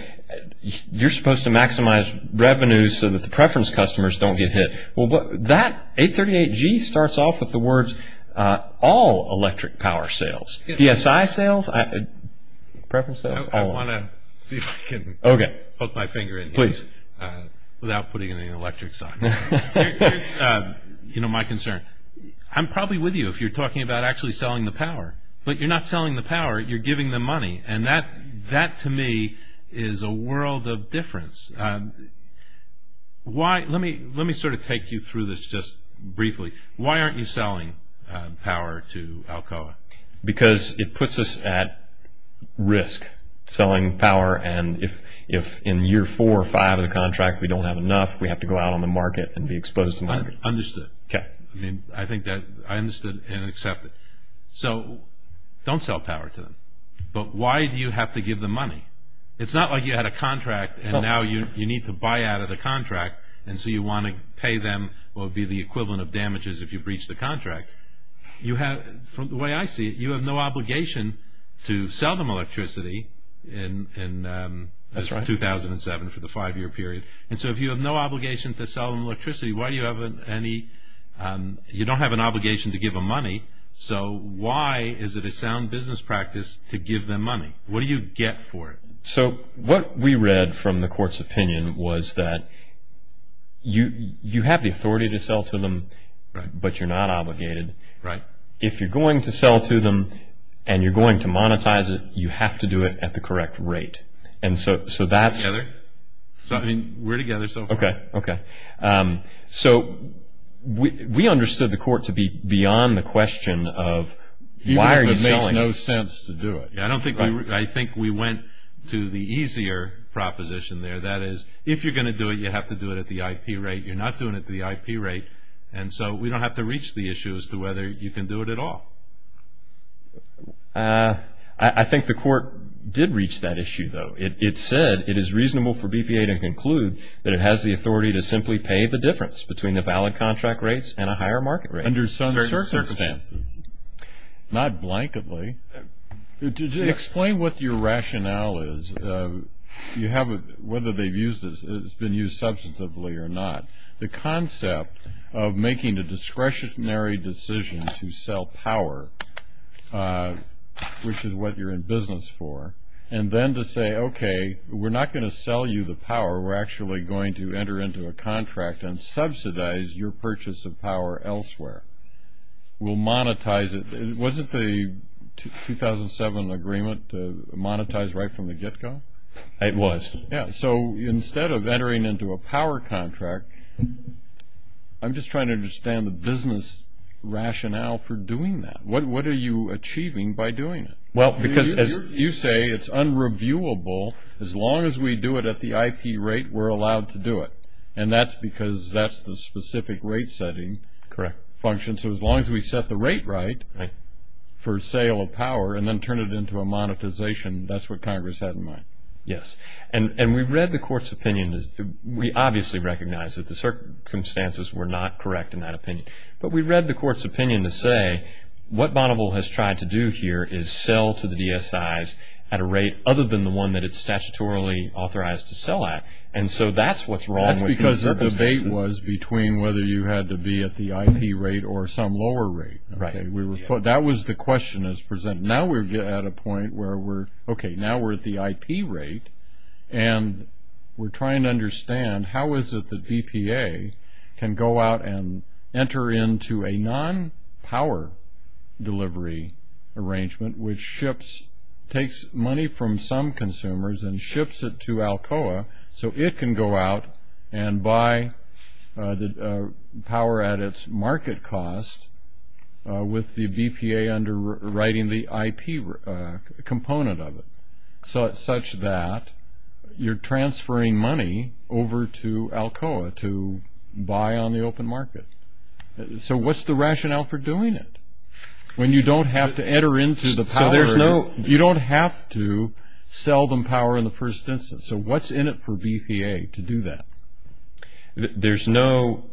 you're supposed to maximize revenues so that the preference customers don't get hit. Well, that 838G starts off with the words, all electric power sales, PSI sales, preference sales, all of them. I want to see if I can poke my finger in here. Please. Without putting any electrics on. You know, my concern. I'm probably with you if you're talking about actually selling the power. But you're not selling the power, you're giving them money. And that, that to me is a world of difference. Why, let me, let me sort of take you through this just briefly. Why aren't you selling power to Alcoa? Because it puts us at risk selling power and if, if in year four or five of the contract we don't have enough, we have to go out on the market and be exposed to market. Understood. Okay. I mean, I think that, I understood and accept it. So, don't sell power to them. But why do you have to give them money? It's not like you had a contract and now you, you need to buy out of the contract and so you want to pay them what would be the equivalent of damages if you breached the contract. You have, from the way I see it, you have no obligation to sell them electricity in, in. That's right. 2007 for the five year period. And so if you have no obligation to sell them electricity, why do you have any, you don't have an obligation to give them money. So, why is it a sound business practice to give them money? What do you get for it? So, what we read from the court's opinion was that you, you have the authority to sell to them, but you're not obligated. Right. If you're going to sell to them and you're going to monetize it, you have to do it at the correct rate. And so, so that's. Together. So, I mean, we're together so far. Okay. Okay. So, we, we understood the court to be beyond the question of why are you selling it. It would make no sense to do it. Yeah, I don't think we, I think we went to the easier proposition there. That is, if you're going to do it, you have to do it at the IP rate. You're not doing it at the IP rate. And so, we don't have to reach the issue as to whether you can do it at all. I, I think the court did reach that issue though. It, it said it is reasonable for BPA to conclude that it has the authority to simply pay the difference between the valid contract rates and a higher market rate. Under some circumstances. Not blanketly. Explain what your rationale is. You have a, whether they've used this, it's been used substantively or not. The concept of making a discretionary decision to sell power, which is what you're in business for. And then to say, okay, we're not going to sell you the power. We're actually going to enter into a contract and subsidize your purchase of power elsewhere. We'll monetize it. Wasn't the 2007 agreement monetized right from the get-go? It was. Yeah. So, instead of entering into a power contract, I'm just trying to understand the business rationale for doing that. What, what are you achieving by doing it? Well, because as you say, it's unreviewable. As long as we do it at the IP rate, we're allowed to do it. And that's because that's the specific rate setting. Correct. Function. So, as long as we set the rate right for sale of power and then turn it into a monetization, that's what Congress had in mind. Yes. And, and we've read the court's opinion. We obviously recognize that the circumstances were not correct in that opinion. But we've read the court's opinion to say, what Bonneville has tried to do here is sell to the DSIs at a rate other than the one that it's statutorily authorized to sell at. And so, that's what's wrong with. That's because the debate was between whether you had to be at the IP rate or some lower rate, okay. We were, that was the question that was presented. Now we're at a point where we're, okay, now we're at the IP rate. And we're trying to understand how is it that EPA can go out and enter into a non-power delivery arrangement which ships, takes money from some consumers and ships it to Alcoa so it can go out and buy the power at its market cost with the EPA underwriting the IP component of it. Such that you're transferring money over to Alcoa to buy on the open market. So, what's the rationale for doing it? When you don't have to enter into the power. No, you don't have to sell them power in the first instance. So, what's in it for EPA to do that? There's no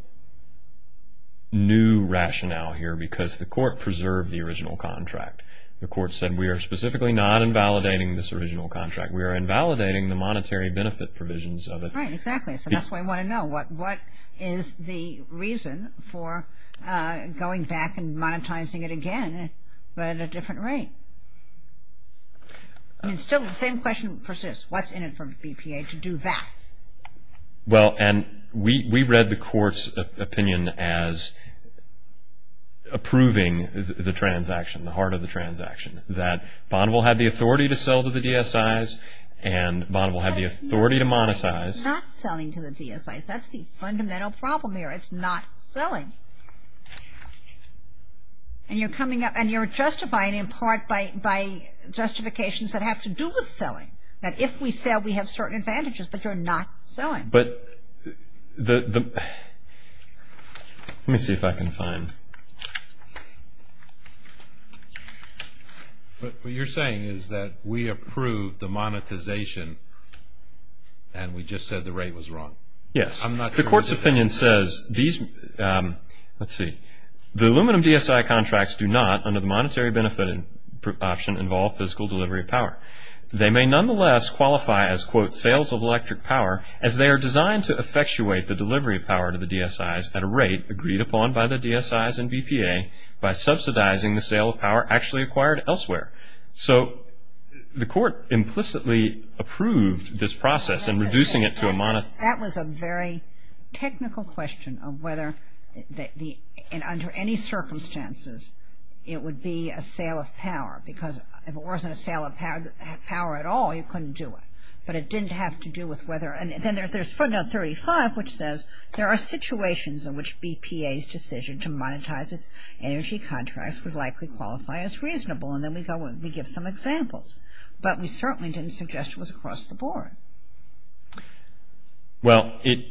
new rationale here because the court preserved the original contract. The court said we are specifically not invalidating this original contract. We are invalidating the monetary benefit provisions of it. Right, exactly. So, that's why we want to know what is the reason for going back and monetizing it again but at a different rate. And so, the same question persists. What's in it for EPA to do that? Well, and we read the court's opinion as approving the transaction, the heart of the transaction, that Bonneville had the authority to sell to the DSIs and Bonneville had the authority to monetize. Not selling to the DSIs. That's the fundamental problem here. It's not selling. And you're coming up and you're justifying in part by justifications that have to do with selling. That if we sell, we have certain advantages but you're not selling. But the, let me see if I can find. What you're saying is that we approved the monetization and we just said the rate was wrong. Yes. I'm not sure. The court's opinion says these, let's see, the aluminum DSI contracts do not under the monetary benefit option involve physical delivery of power. They may nonetheless qualify as, quote, sales of electric power as they are designed to effectuate the delivery of power to the DSIs at a rate agreed upon by the DSIs and BPA by subsidizing the sale of power actually acquired elsewhere. So, the court implicitly approved this process in reducing it to a monetization. That was a very technical question of whether the, and under any circumstances, it would be a sale of power because if it wasn't a sale of power at all, you couldn't do it. But it didn't have to do with whether, and then there's 35 which says there are situations in which BPA's decision to monetize its energy contracts would likely qualify as reasonable. And then we go and we give some examples. But we certainly didn't suggest it was across the board. Well, it,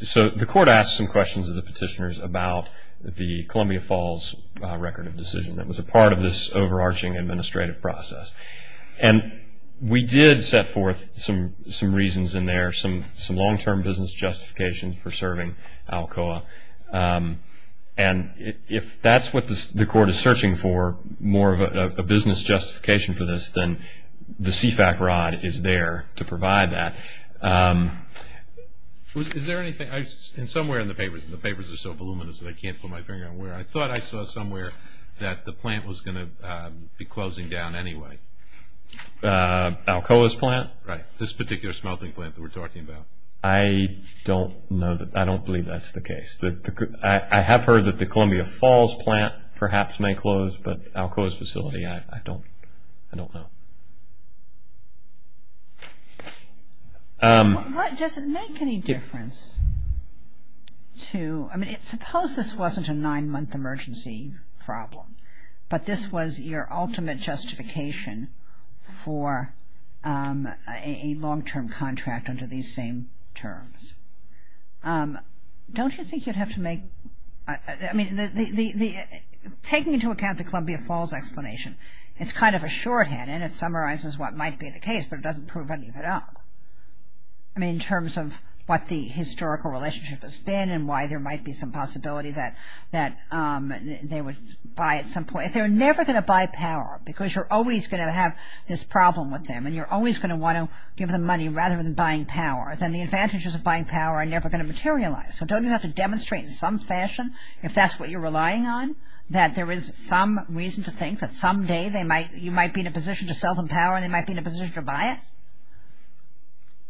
so the court asked some questions of the petitioners about the Columbia Falls record of decision that was a part of this overarching administrative process. And we did set forth some reasons in there, some long-term business justifications for serving Alcoa. And if that's what the court is searching for, more of a business justification for this, then the CFAC rod is there to provide that. Is there anything, and somewhere in the papers, and the papers are so voluminous that I can't put my finger on where, I thought I saw somewhere that the plant was going to be closing down anyway. Alcoa's plant? Right. This particular smelting plant that we're talking about. I don't know, I don't believe that's the case. But I have heard that the Columbia Falls plant perhaps may close, but Alcoa's facility, I don't, I don't know. Does it make any difference to, I mean, suppose this wasn't a nine-month emergency problem. But this was your ultimate justification for a long-term contract under these same terms. Don't you think you'd have to make, I mean, the, the, the, taking into account the Columbia Falls explanation, it's kind of a shorthand, and it summarizes what might be the case, but it doesn't prove anything at all. I mean, in terms of what the historical relationship has been, and why there might be some possibility that, that they would buy at some point. If they're never going to buy power, because you're always going to have this problem with them, and you're always going to want to give them money rather than buying power, then the advantages of buying power are never going to materialize. So don't you have to demonstrate in some fashion, if that's what you're relying on, that there is some reason to think that someday they might, you might be in a position to self-empower, and they might be in a position to buy it?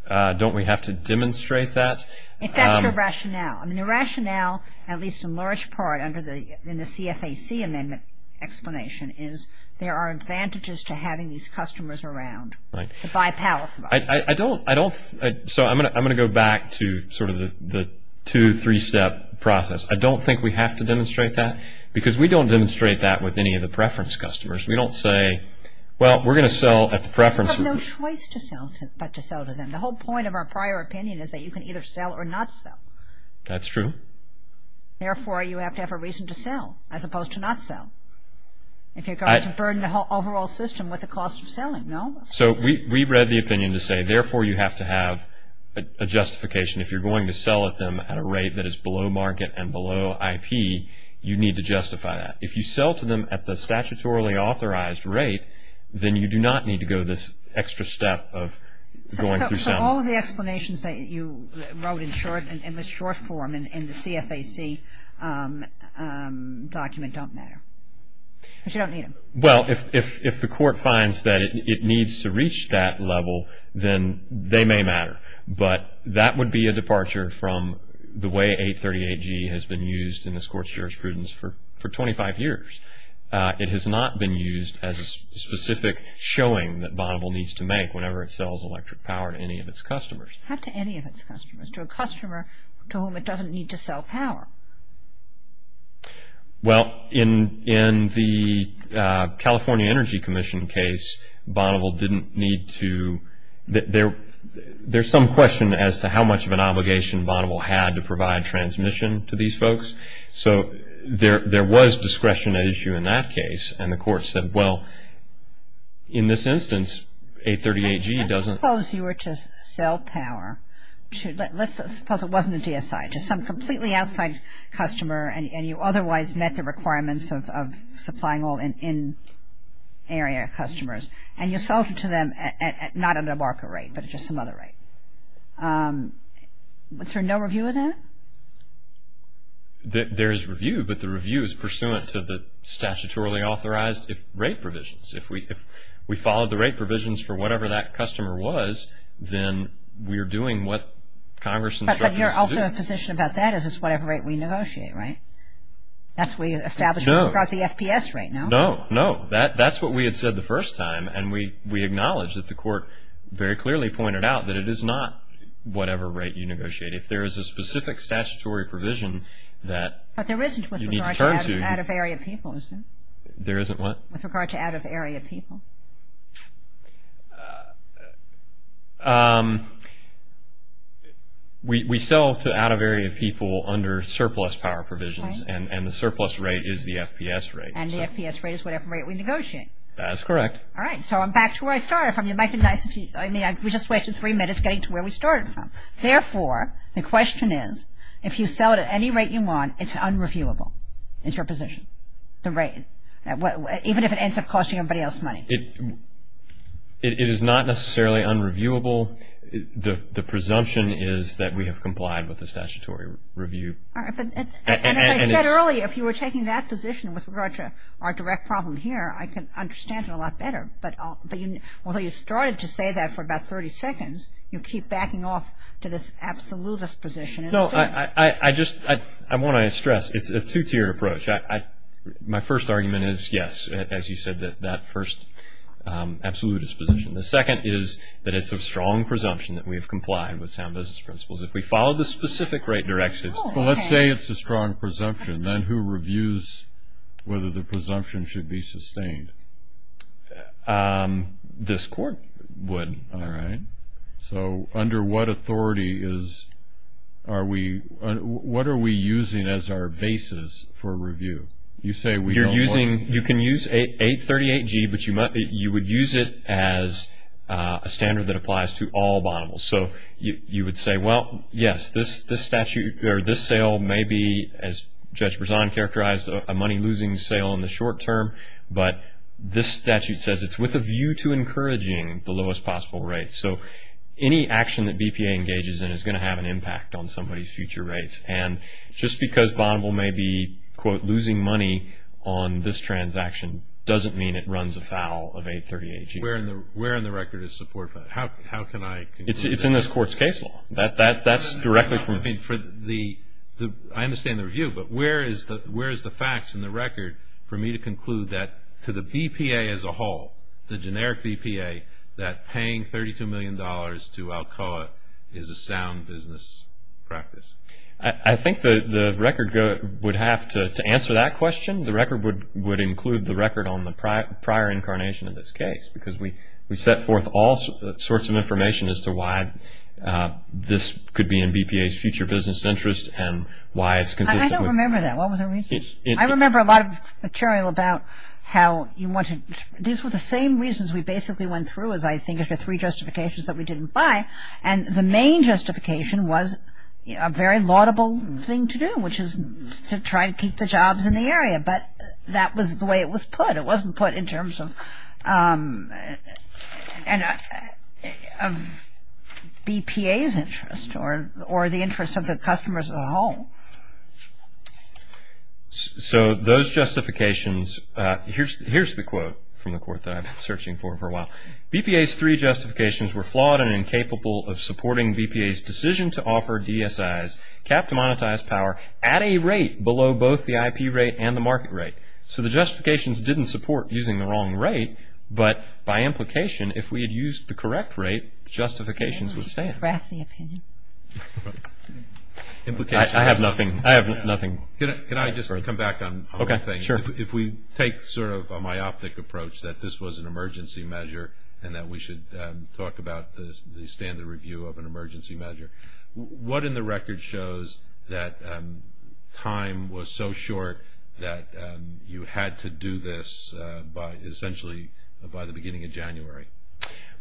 Don't we have to demonstrate that? If that's the rationale. I mean, the rationale, at least in large part, under the, in the CFAC amendment explanation, is there are advantages to having these customers around to buy power from us. I don't, I don't, so I'm going to, I'm going to go back to sort of the, the two, three-step process. I don't think we have to demonstrate that, because we don't demonstrate that with any of the preference customers. We don't say, well, we're going to sell at the preference. You have no choice to sell, but to sell to them. The whole point of our prior opinion is that you can either sell or not sell. That's true. Therefore, you have to have a reason to sell, as opposed to not sell. If you're going to burden the whole overall system with the cost of selling, no. So we, we read the opinion to say, therefore, you have to have a justification. If you're going to sell at them at a rate that is below market and below IP, you need to justify that. If you sell to them at the statutorily authorized rate, then you do not need to go this extra step of going through selling. So, so all of the explanations that you wrote in short, in the short form in the CFAC document don't matter, because you don't need them. Well, if, if, if the court finds that it, it needs to reach that level, then they may matter. But that would be a departure from the way 838G has been used in the Scorch-Gerrish prudence for, for 25 years. It has not been used as a specific showing that Bonneville needs to make whenever it sells electric power to any of its customers. Not to any of its customers. To a customer to whom it doesn't need to sell power. Well, in, in the California Energy Commission case, Bonneville didn't need to. There, there's some question as to how much of an obligation Bonneville had to provide transmission to these folks. So, there, there was discretion at issue in that case. And the court said, well, in this instance, 838G doesn't. Suppose you were to sell power to, let's suppose it wasn't a DSI, to some completely outside customer and, and you otherwise met the requirements of, of supplying all in, in area customers. And you sold it to them at, at, not at a market rate, but at just some other rate. Was there no review of that? There, there's review, but the review is pursuant to the statutorily authorized rate provisions. If we, if we followed the rate provisions for whatever that customer was, then we're doing what Congress and the. But, but you're also in a position about that, is it's whatever rate we negotiate, right? That's where you establish. No. About the FPS rate, no? No, no. That, that's what we had said the first time. And we, we acknowledge that the court very clearly pointed out that it is not whatever rate you negotiate. If there is a specific statutory provision that. But there isn't with regard to out of area people, is there? There isn't what? With regard to out of area people. We, we sell to out of area people under surplus power provisions. Right. And, and the surplus rate is the FPS rate. And the FPS rate is whatever rate we negotiate. That's correct. All right. So I'm back to where I started from. You might be nice if you, I mean, we just waited three minutes getting to where we started from. Therefore, the question is, if you sell it at any rate you want, it's unreviewable. It's your position. The rate, even if it ends up costing everybody else money. It, it is not necessarily unreviewable. The, the presumption is that we have complied with the statutory review. All right. But, and as I said earlier, if you were taking that position with regard to our direct problem here, I can understand it a lot better. But, but you, although you started to say that for about 30 seconds, you keep backing off to this absolutist position. No, I, I, I just, I, I want to stress, it's a two-tier approach. I, I, my first argument is yes, as you said, that, that first absolutist position. The second is that it's a strong presumption that we have complied with sound business principles. If we follow the specific right directions. Well, let's say it's a strong presumption. Then who reviews whether the presumption should be sustained? This court would. All right. So, under what authority is, are we, what are we using as our basis for review? You say we don't want. You're using, you can use 838G, but you might be, you would use it as a standard that applies to all bondables. So, you, you would say, well, yes, this, this statute, or this sale may be, as Judge Berzon characterized, a money losing sale in the short term. But this statute says it's with a view to encouraging the lowest possible rate. So, any action that BPA engages in is going to have an impact on somebody's future rates. And just because bondable may be, quote, losing money on this transaction doesn't mean it runs afoul of 838G. Where in the, where in the record is support for that? How, how can I? It's, it's in this court's case law. That, that, that's directly from. I mean, for the, the, I understand the review, but where is the, where is the facts in the record for me to conclude that to the BPA as a whole, the generic BPA, that paying $32 million to, I'll call it, is a sound business practice? I, I think the, the record would have to, to answer that question. The record would, would include the record on the prior, prior incarnation of this case. Because we, we set forth all sorts of information as to why this could be in BPA's future business interest and why it's consistent with. I don't remember that. What was the reason? It's, it's. I remember a lot of material about how you want to, these were the same reasons we basically went through, as I think, if there are three justifications that we didn't find. And the main justification was a very laudable thing to do, which is to try to keep the jobs in the area. But that was the way it was put. It wasn't put in terms of, of BPA's interest or, or the interest of the customers as a whole. So those justifications, here's, here's the quote from the court that I've been searching for for a while. BPA's three justifications were flawed and incapable of supporting BPA's decision to offer DSIs capped monetized power at a rate below both the IP rate and the market rate. So the justifications didn't support using the wrong rate, but by implication, if we had used the correct rate, justifications were the same. I have nothing, I have nothing. Can I just come back on one thing? Sure. If we take sort of a myopic approach that this was an emergency measure and that we should talk about the standard review of an emergency measure, what in the record shows that time was so short that you had to do this by, essentially, by the beginning of January?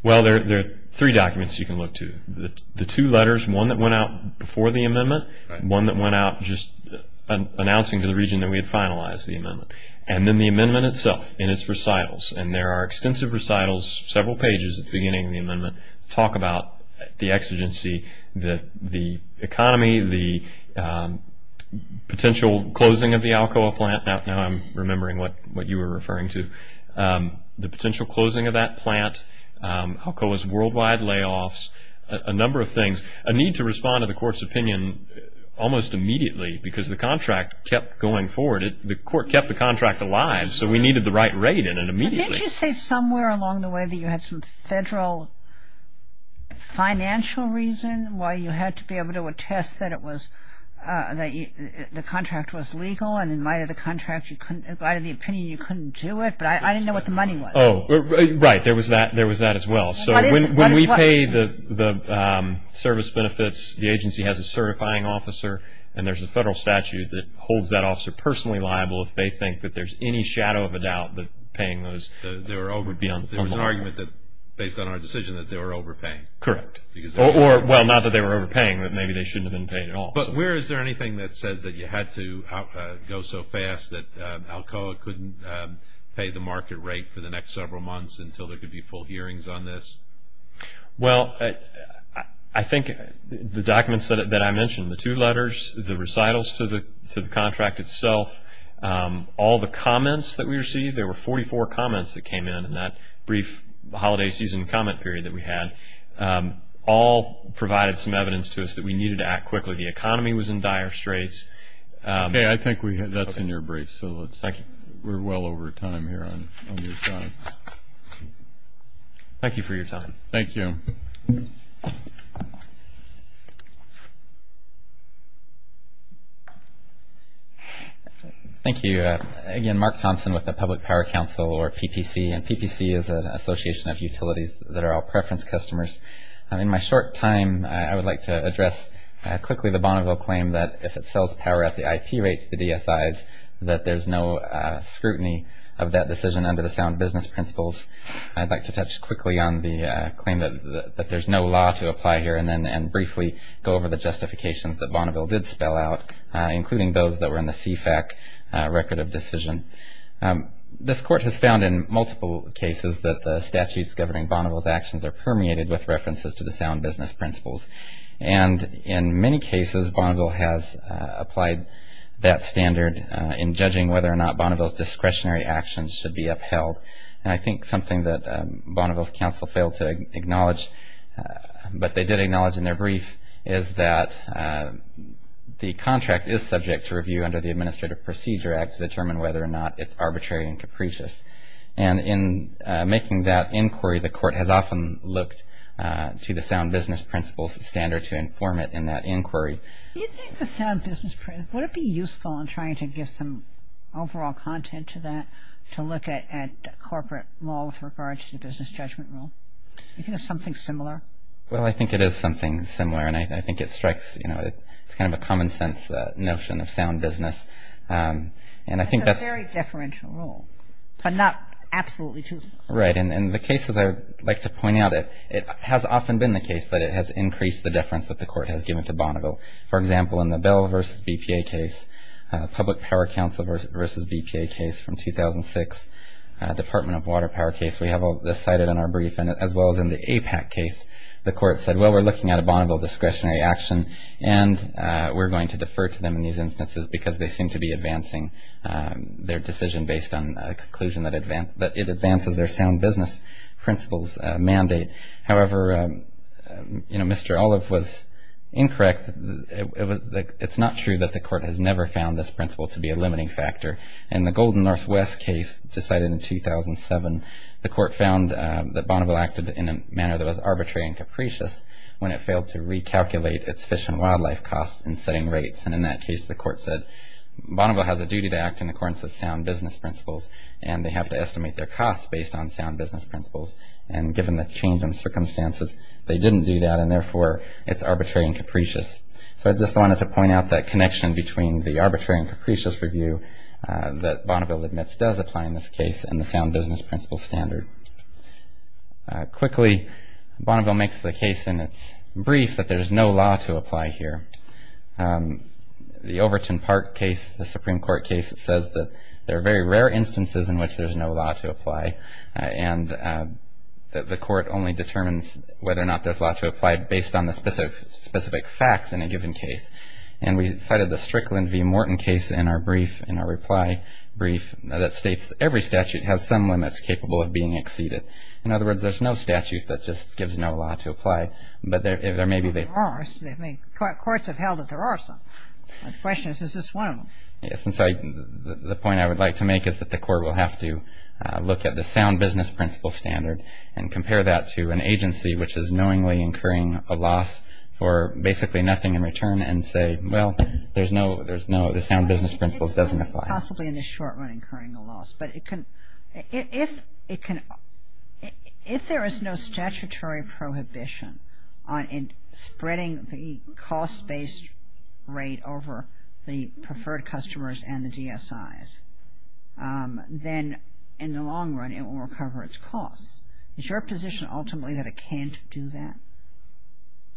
Well, there, there are three documents you can look to. The, the two letters, one that went out before the amendment, one that went out just announcing to the region that we had finalized the amendment, and then the amendment itself in its recitals. And there are extensive recitals, several pages at the beginning of the amendment talk about the exigency, that the economy, the potential closing of the alcohol plant, now I'm remembering what, what you were referring to, the potential closing of that plant, alcohol's worldwide layoffs, a number of things, a need to respond to the court's opinion almost immediately, because the contract kept going forward. The court kept the contract alive, so we needed the right rate in it immediately. Didn't you say somewhere along the way that you had some federal financial reason why you had to be able to attest that it was, that the contract was legal, and in light of the contract, you couldn't, in light of the opinion, you couldn't do it, but I, I didn't know what the money was. Oh, right, there was that, there was that as well. So when, when we pay the, the service benefits, the agency has a certifying officer, and there's a federal statute that holds that officer personally liable if they think that there's any shadow of a doubt that paying those, they were over, would be unlawful. There was an argument that, based on our decision, that they were overpaying. Correct. Because they were. Or, or, well, not that they were overpaying, but maybe they shouldn't have been paid at all. But where, is there anything that says that you had to go so fast that Alcoa couldn't pay the market rate for the next several months until there could be full hearings on this? Well, I, I think the documents that, that I mentioned, the two letters, the recitals to the, to the contract itself, all the comments that we received, there were 44 comments that came in in that brief holiday season comment period that we had. All provided some evidence to us that we needed to act quickly. The economy was in dire straits. Okay, I think we have, that's in your briefs, so let's, we're well over time here on, on your time. Thank you for your time. Thank you. Thank you. Again, Mark Thompson with the Public Power Council, or PPC, and PPC is an association of utilities that are all preference customers. In my short time, I would like to address quickly the Bonneville claim that if it sells power at the IT rates, the DSIs, that there's no scrutiny of that decision under the sound business principles. I'd like to touch quickly on the claim that, that there's no law to apply here and then, and briefly go over the justifications that Bonneville did spell out, including those that were in the CFAC record of decision. This court has found in multiple cases that the statutes governing Bonneville's actions are permeated with references to the sound business principles. And in many cases, Bonneville has applied that standard in judging whether or not Bonneville's discretionary actions should be upheld. What they did acknowledge in their brief is that the contract is subject to review under the Administrative Procedure Act to determine whether or not it's arbitrary and capricious. And in making that inquiry, the court has often looked to the sound business principles standard to inform it in that inquiry. Do you think the sound business principles, would it be useful in trying to give some overall content to that, to look at corporate law with regards to business judgment law? Do you think it's something similar? Well, I think it is something similar and I think it strikes, you know, it's kind of a common sense notion of sound business. And I think that's. It's a very deferential rule, but not absolutely too. Right. And the cases I'd like to point out, it has often been the case that it has increased the deference that the court has given to Bonneville. For example, in the Bell v. BPA case, Public Power Council v. BPA case from 2006, Department of Water Power case, we have all this cited in our brief. And as well as in the APAC case, the court said, well, we're looking at a Bonneville discretionary action and we're going to defer to them in these instances because they seem to be advancing their decision based on a conclusion that it advances their sound business principles mandate. However, you know, Mr. Olive was incorrect, it's not true that the court has never found this principle to be a limiting factor. And the Golden Northwest case decided in 2007, the court found that Bonneville acted in a manner that was arbitrary and capricious when it failed to recalculate its fish and wildlife costs and setting rates. And in that case, the court said Bonneville has a duty to act in accordance with sound business principles and they have to estimate their costs based on sound business principles. And given the change in circumstances, they didn't do that and therefore it's arbitrary and capricious. So I just wanted to point out that connection between the arbitrary and capricious review that Bonneville admits does apply in this case and the sound business principles standard. Quickly, Bonneville makes the case in its brief that there's no law to apply here. The Overton Park case, the Supreme Court case says that there are very rare instances in which there's no law to apply and that the court only determines whether or not there's law to apply based on the specific facts in a given case. And we cited the Strickland v. Morton case in our brief, in our reply brief, that states every statute has some limits capable of being exceeded. In other words, there's no statute that just gives no law to apply. But there maybe they are, courts have held that there are some. The question is, is this one of them? Yes, and so the point I would like to make is that the court will have to look at the sound business principle standard and compare that to an agency which is knowingly incurring a loss or basically nothing in return and say, well, there's no, there's no, the sound business principle doesn't apply. Possibly in the short run incurring a loss, but it can, if it can, if there is no statutory prohibition on spreading the cost-based rate over the preferred customers and the DSIs, then in the long run, it will recover its costs. Is your position ultimately that it can't do that?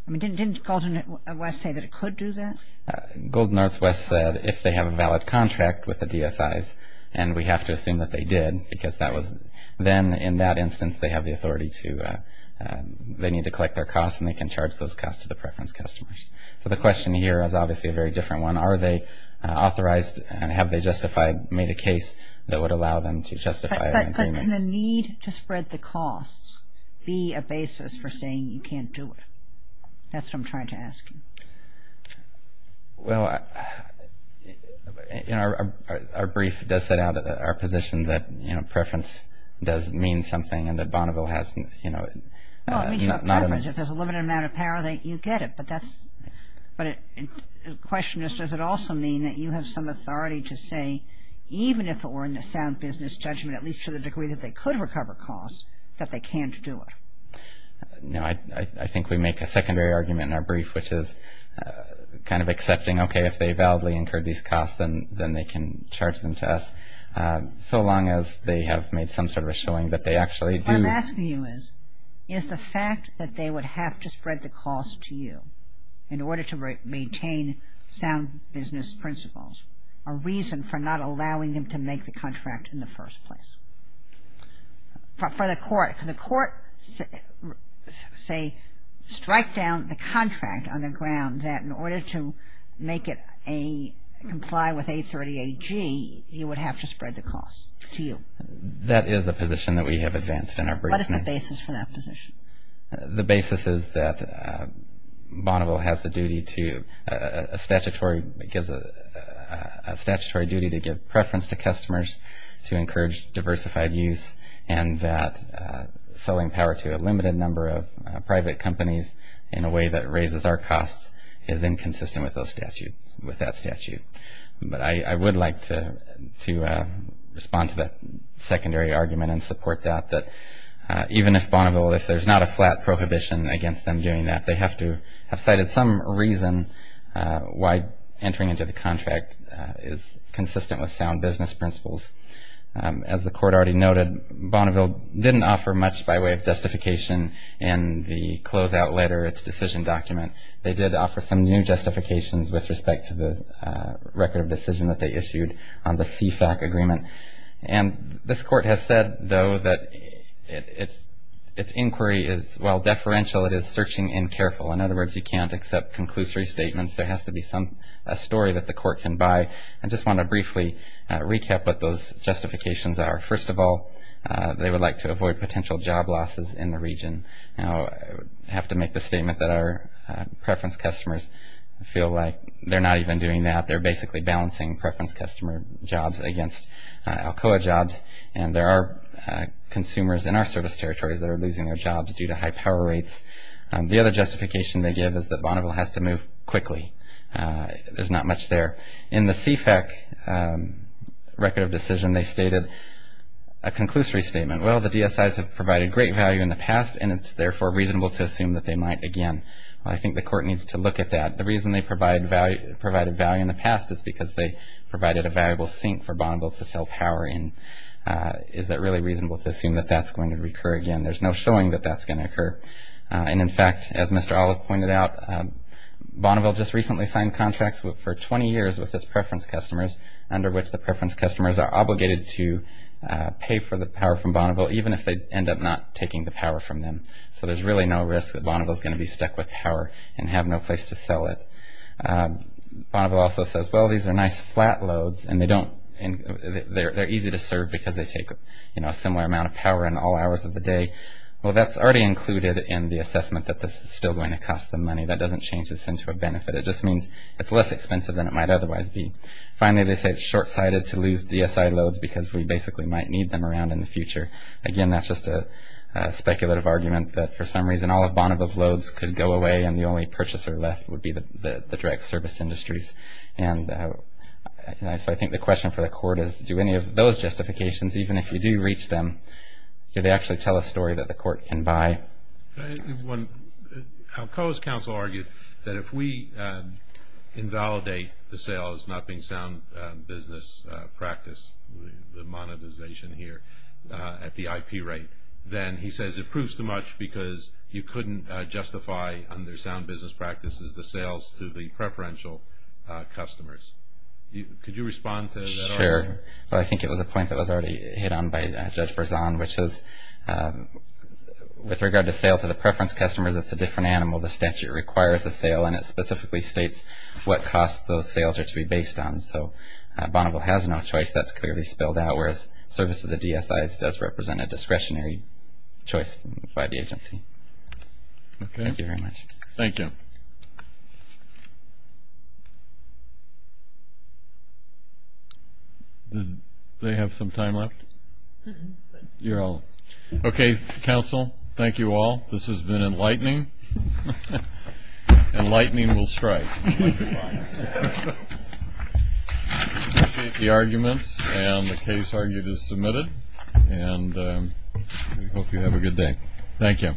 I mean, didn't Gold Northwest say that it could do that? Gold Northwest said if they have a valid contract with the DSIs, and we have to assume that they did because that was, then in that instance, they have the authority to, they need to collect their costs and they can charge those costs to the preference customers. So the question here is obviously a very different one. Are they authorized and have they justified, made a case that would allow them to justify their payment? Doesn't the need to spread the costs be a basis for saying you can't do it? That's what I'm trying to ask you. Well, you know, our brief does set out our position that, you know, preference does mean something and that Bonneville has, you know, not only. If there's a limited amount of power, then you get it, but that's, but the question is, does it also mean that you have some authority to say even if it were in a sound business judgment, at least to the degree that they could recover costs, that they can't do it? No, I think we make a secondary argument in our brief, which is kind of accepting, okay, if they validly incurred these costs, then they can charge them to us. So long as they have made some sort of showing that they actually do. What I'm asking you is, is the fact that they would have to spread the cost to you in order to maintain sound business principles, a reason for not allowing them to make the contract in the first place. For the court, can the court say, strike down the contract on the ground that in order to make it comply with 830 AG, you would have to spread the cost to you? That is a position that we have advanced in our brief. What is the basis for that position? The basis is that Bonneville has the duty to, a statutory, it gives a statutory duty to give preference to customers, to encourage diversified use, and that selling power to a limited number of private companies in a way that raises our costs is inconsistent with those statutes, with that statute. But I would like to respond to that secondary argument and support that, even if Bonneville, if there's not a flat prohibition against them doing that, they have to have cited some reason why entering into the contract is consistent with sound business principles. As the court already noted, Bonneville didn't offer much by way of justification in the closeout letter, its decision document. They did offer some new justifications with respect to the record of decision that they issued on the CSAC agreement. And this court has said, though, that its inquiry is, while deferential, it is searching and careful. In other words, you can't accept conclusory statements. There has to be some, a story that the court can buy. I just want to briefly recap what those justifications are. First of all, they would like to avoid potential job losses in the region. Now, I have to make the statement that our preference customers feel like they're not even doing that. They're basically balancing preference customer jobs against Alcoa jobs. And there are consumers in our service territories that are losing their jobs due to high power rates. The other justification they give is that Bonneville has to move quickly. There's not much there. In the CFAC record of decision, they stated a conclusory statement. Well, the DSIs have provided great value in the past, and it's, therefore, reasonable to assume that they might again. I think the court needs to look at that. The reason they provide value in the past is because they provided a valuable sink for Bonneville to sell power in. Is that really reasonable to assume that that's going to recur again? There's no showing that that's going to occur. And in fact, as Mr. Olive pointed out, Bonneville just recently signed contracts for 20 years with its preference customers under which the preference customers are obligated to pay for the power from Bonneville even if they end up not taking the power from them. So, there's really no risk that Bonneville is going to be stuck with power and have no place to sell it. Bonneville also says, well, these are nice flat loads, and they don't, they're easy to serve because they take, you know, a similar amount of power in all hours of the day. Well, that's already included in the assessment that this is still going to cost them money. That doesn't change this into a benefit. It just means it's less expensive than it might otherwise be. Finally, they say it's short-sighted to lose DSI loads because we basically might need them around in the future. Again, that's just a speculative argument that for some reason, all of Bonneville's loads could go away, and the only purchaser left would be the direct service industries, and so I think the question for the court is do any of those justifications, even if you do reach them, do they actually tell a story that the court can buy? I'll close counsel argued that if we invalidate the sales, not being sound business practice, the monetization here at the IP rate, then he says it proves too much because you couldn't justify under sound business practices the sales to the preferential customers. Could you respond to that? Sure. Well, I think it was a point that was already hit on by Judge Berzon, which is with regard to sales to the preference customers, it's a different animal. The statute requires a sale, and it specifically states what cost those sales are to be based on. So, Bonneville has no choice. That's clearly spelled out, whereas service to the DSIs does represent a discretionary choice by the agency. Okay. Thank you. Did they have some time left? You're all. Okay, counsel. Thank you all. This has been enlightening, and lightning will strike. The arguments and the case argued is submitted, and we hope you have a good day. Thank you.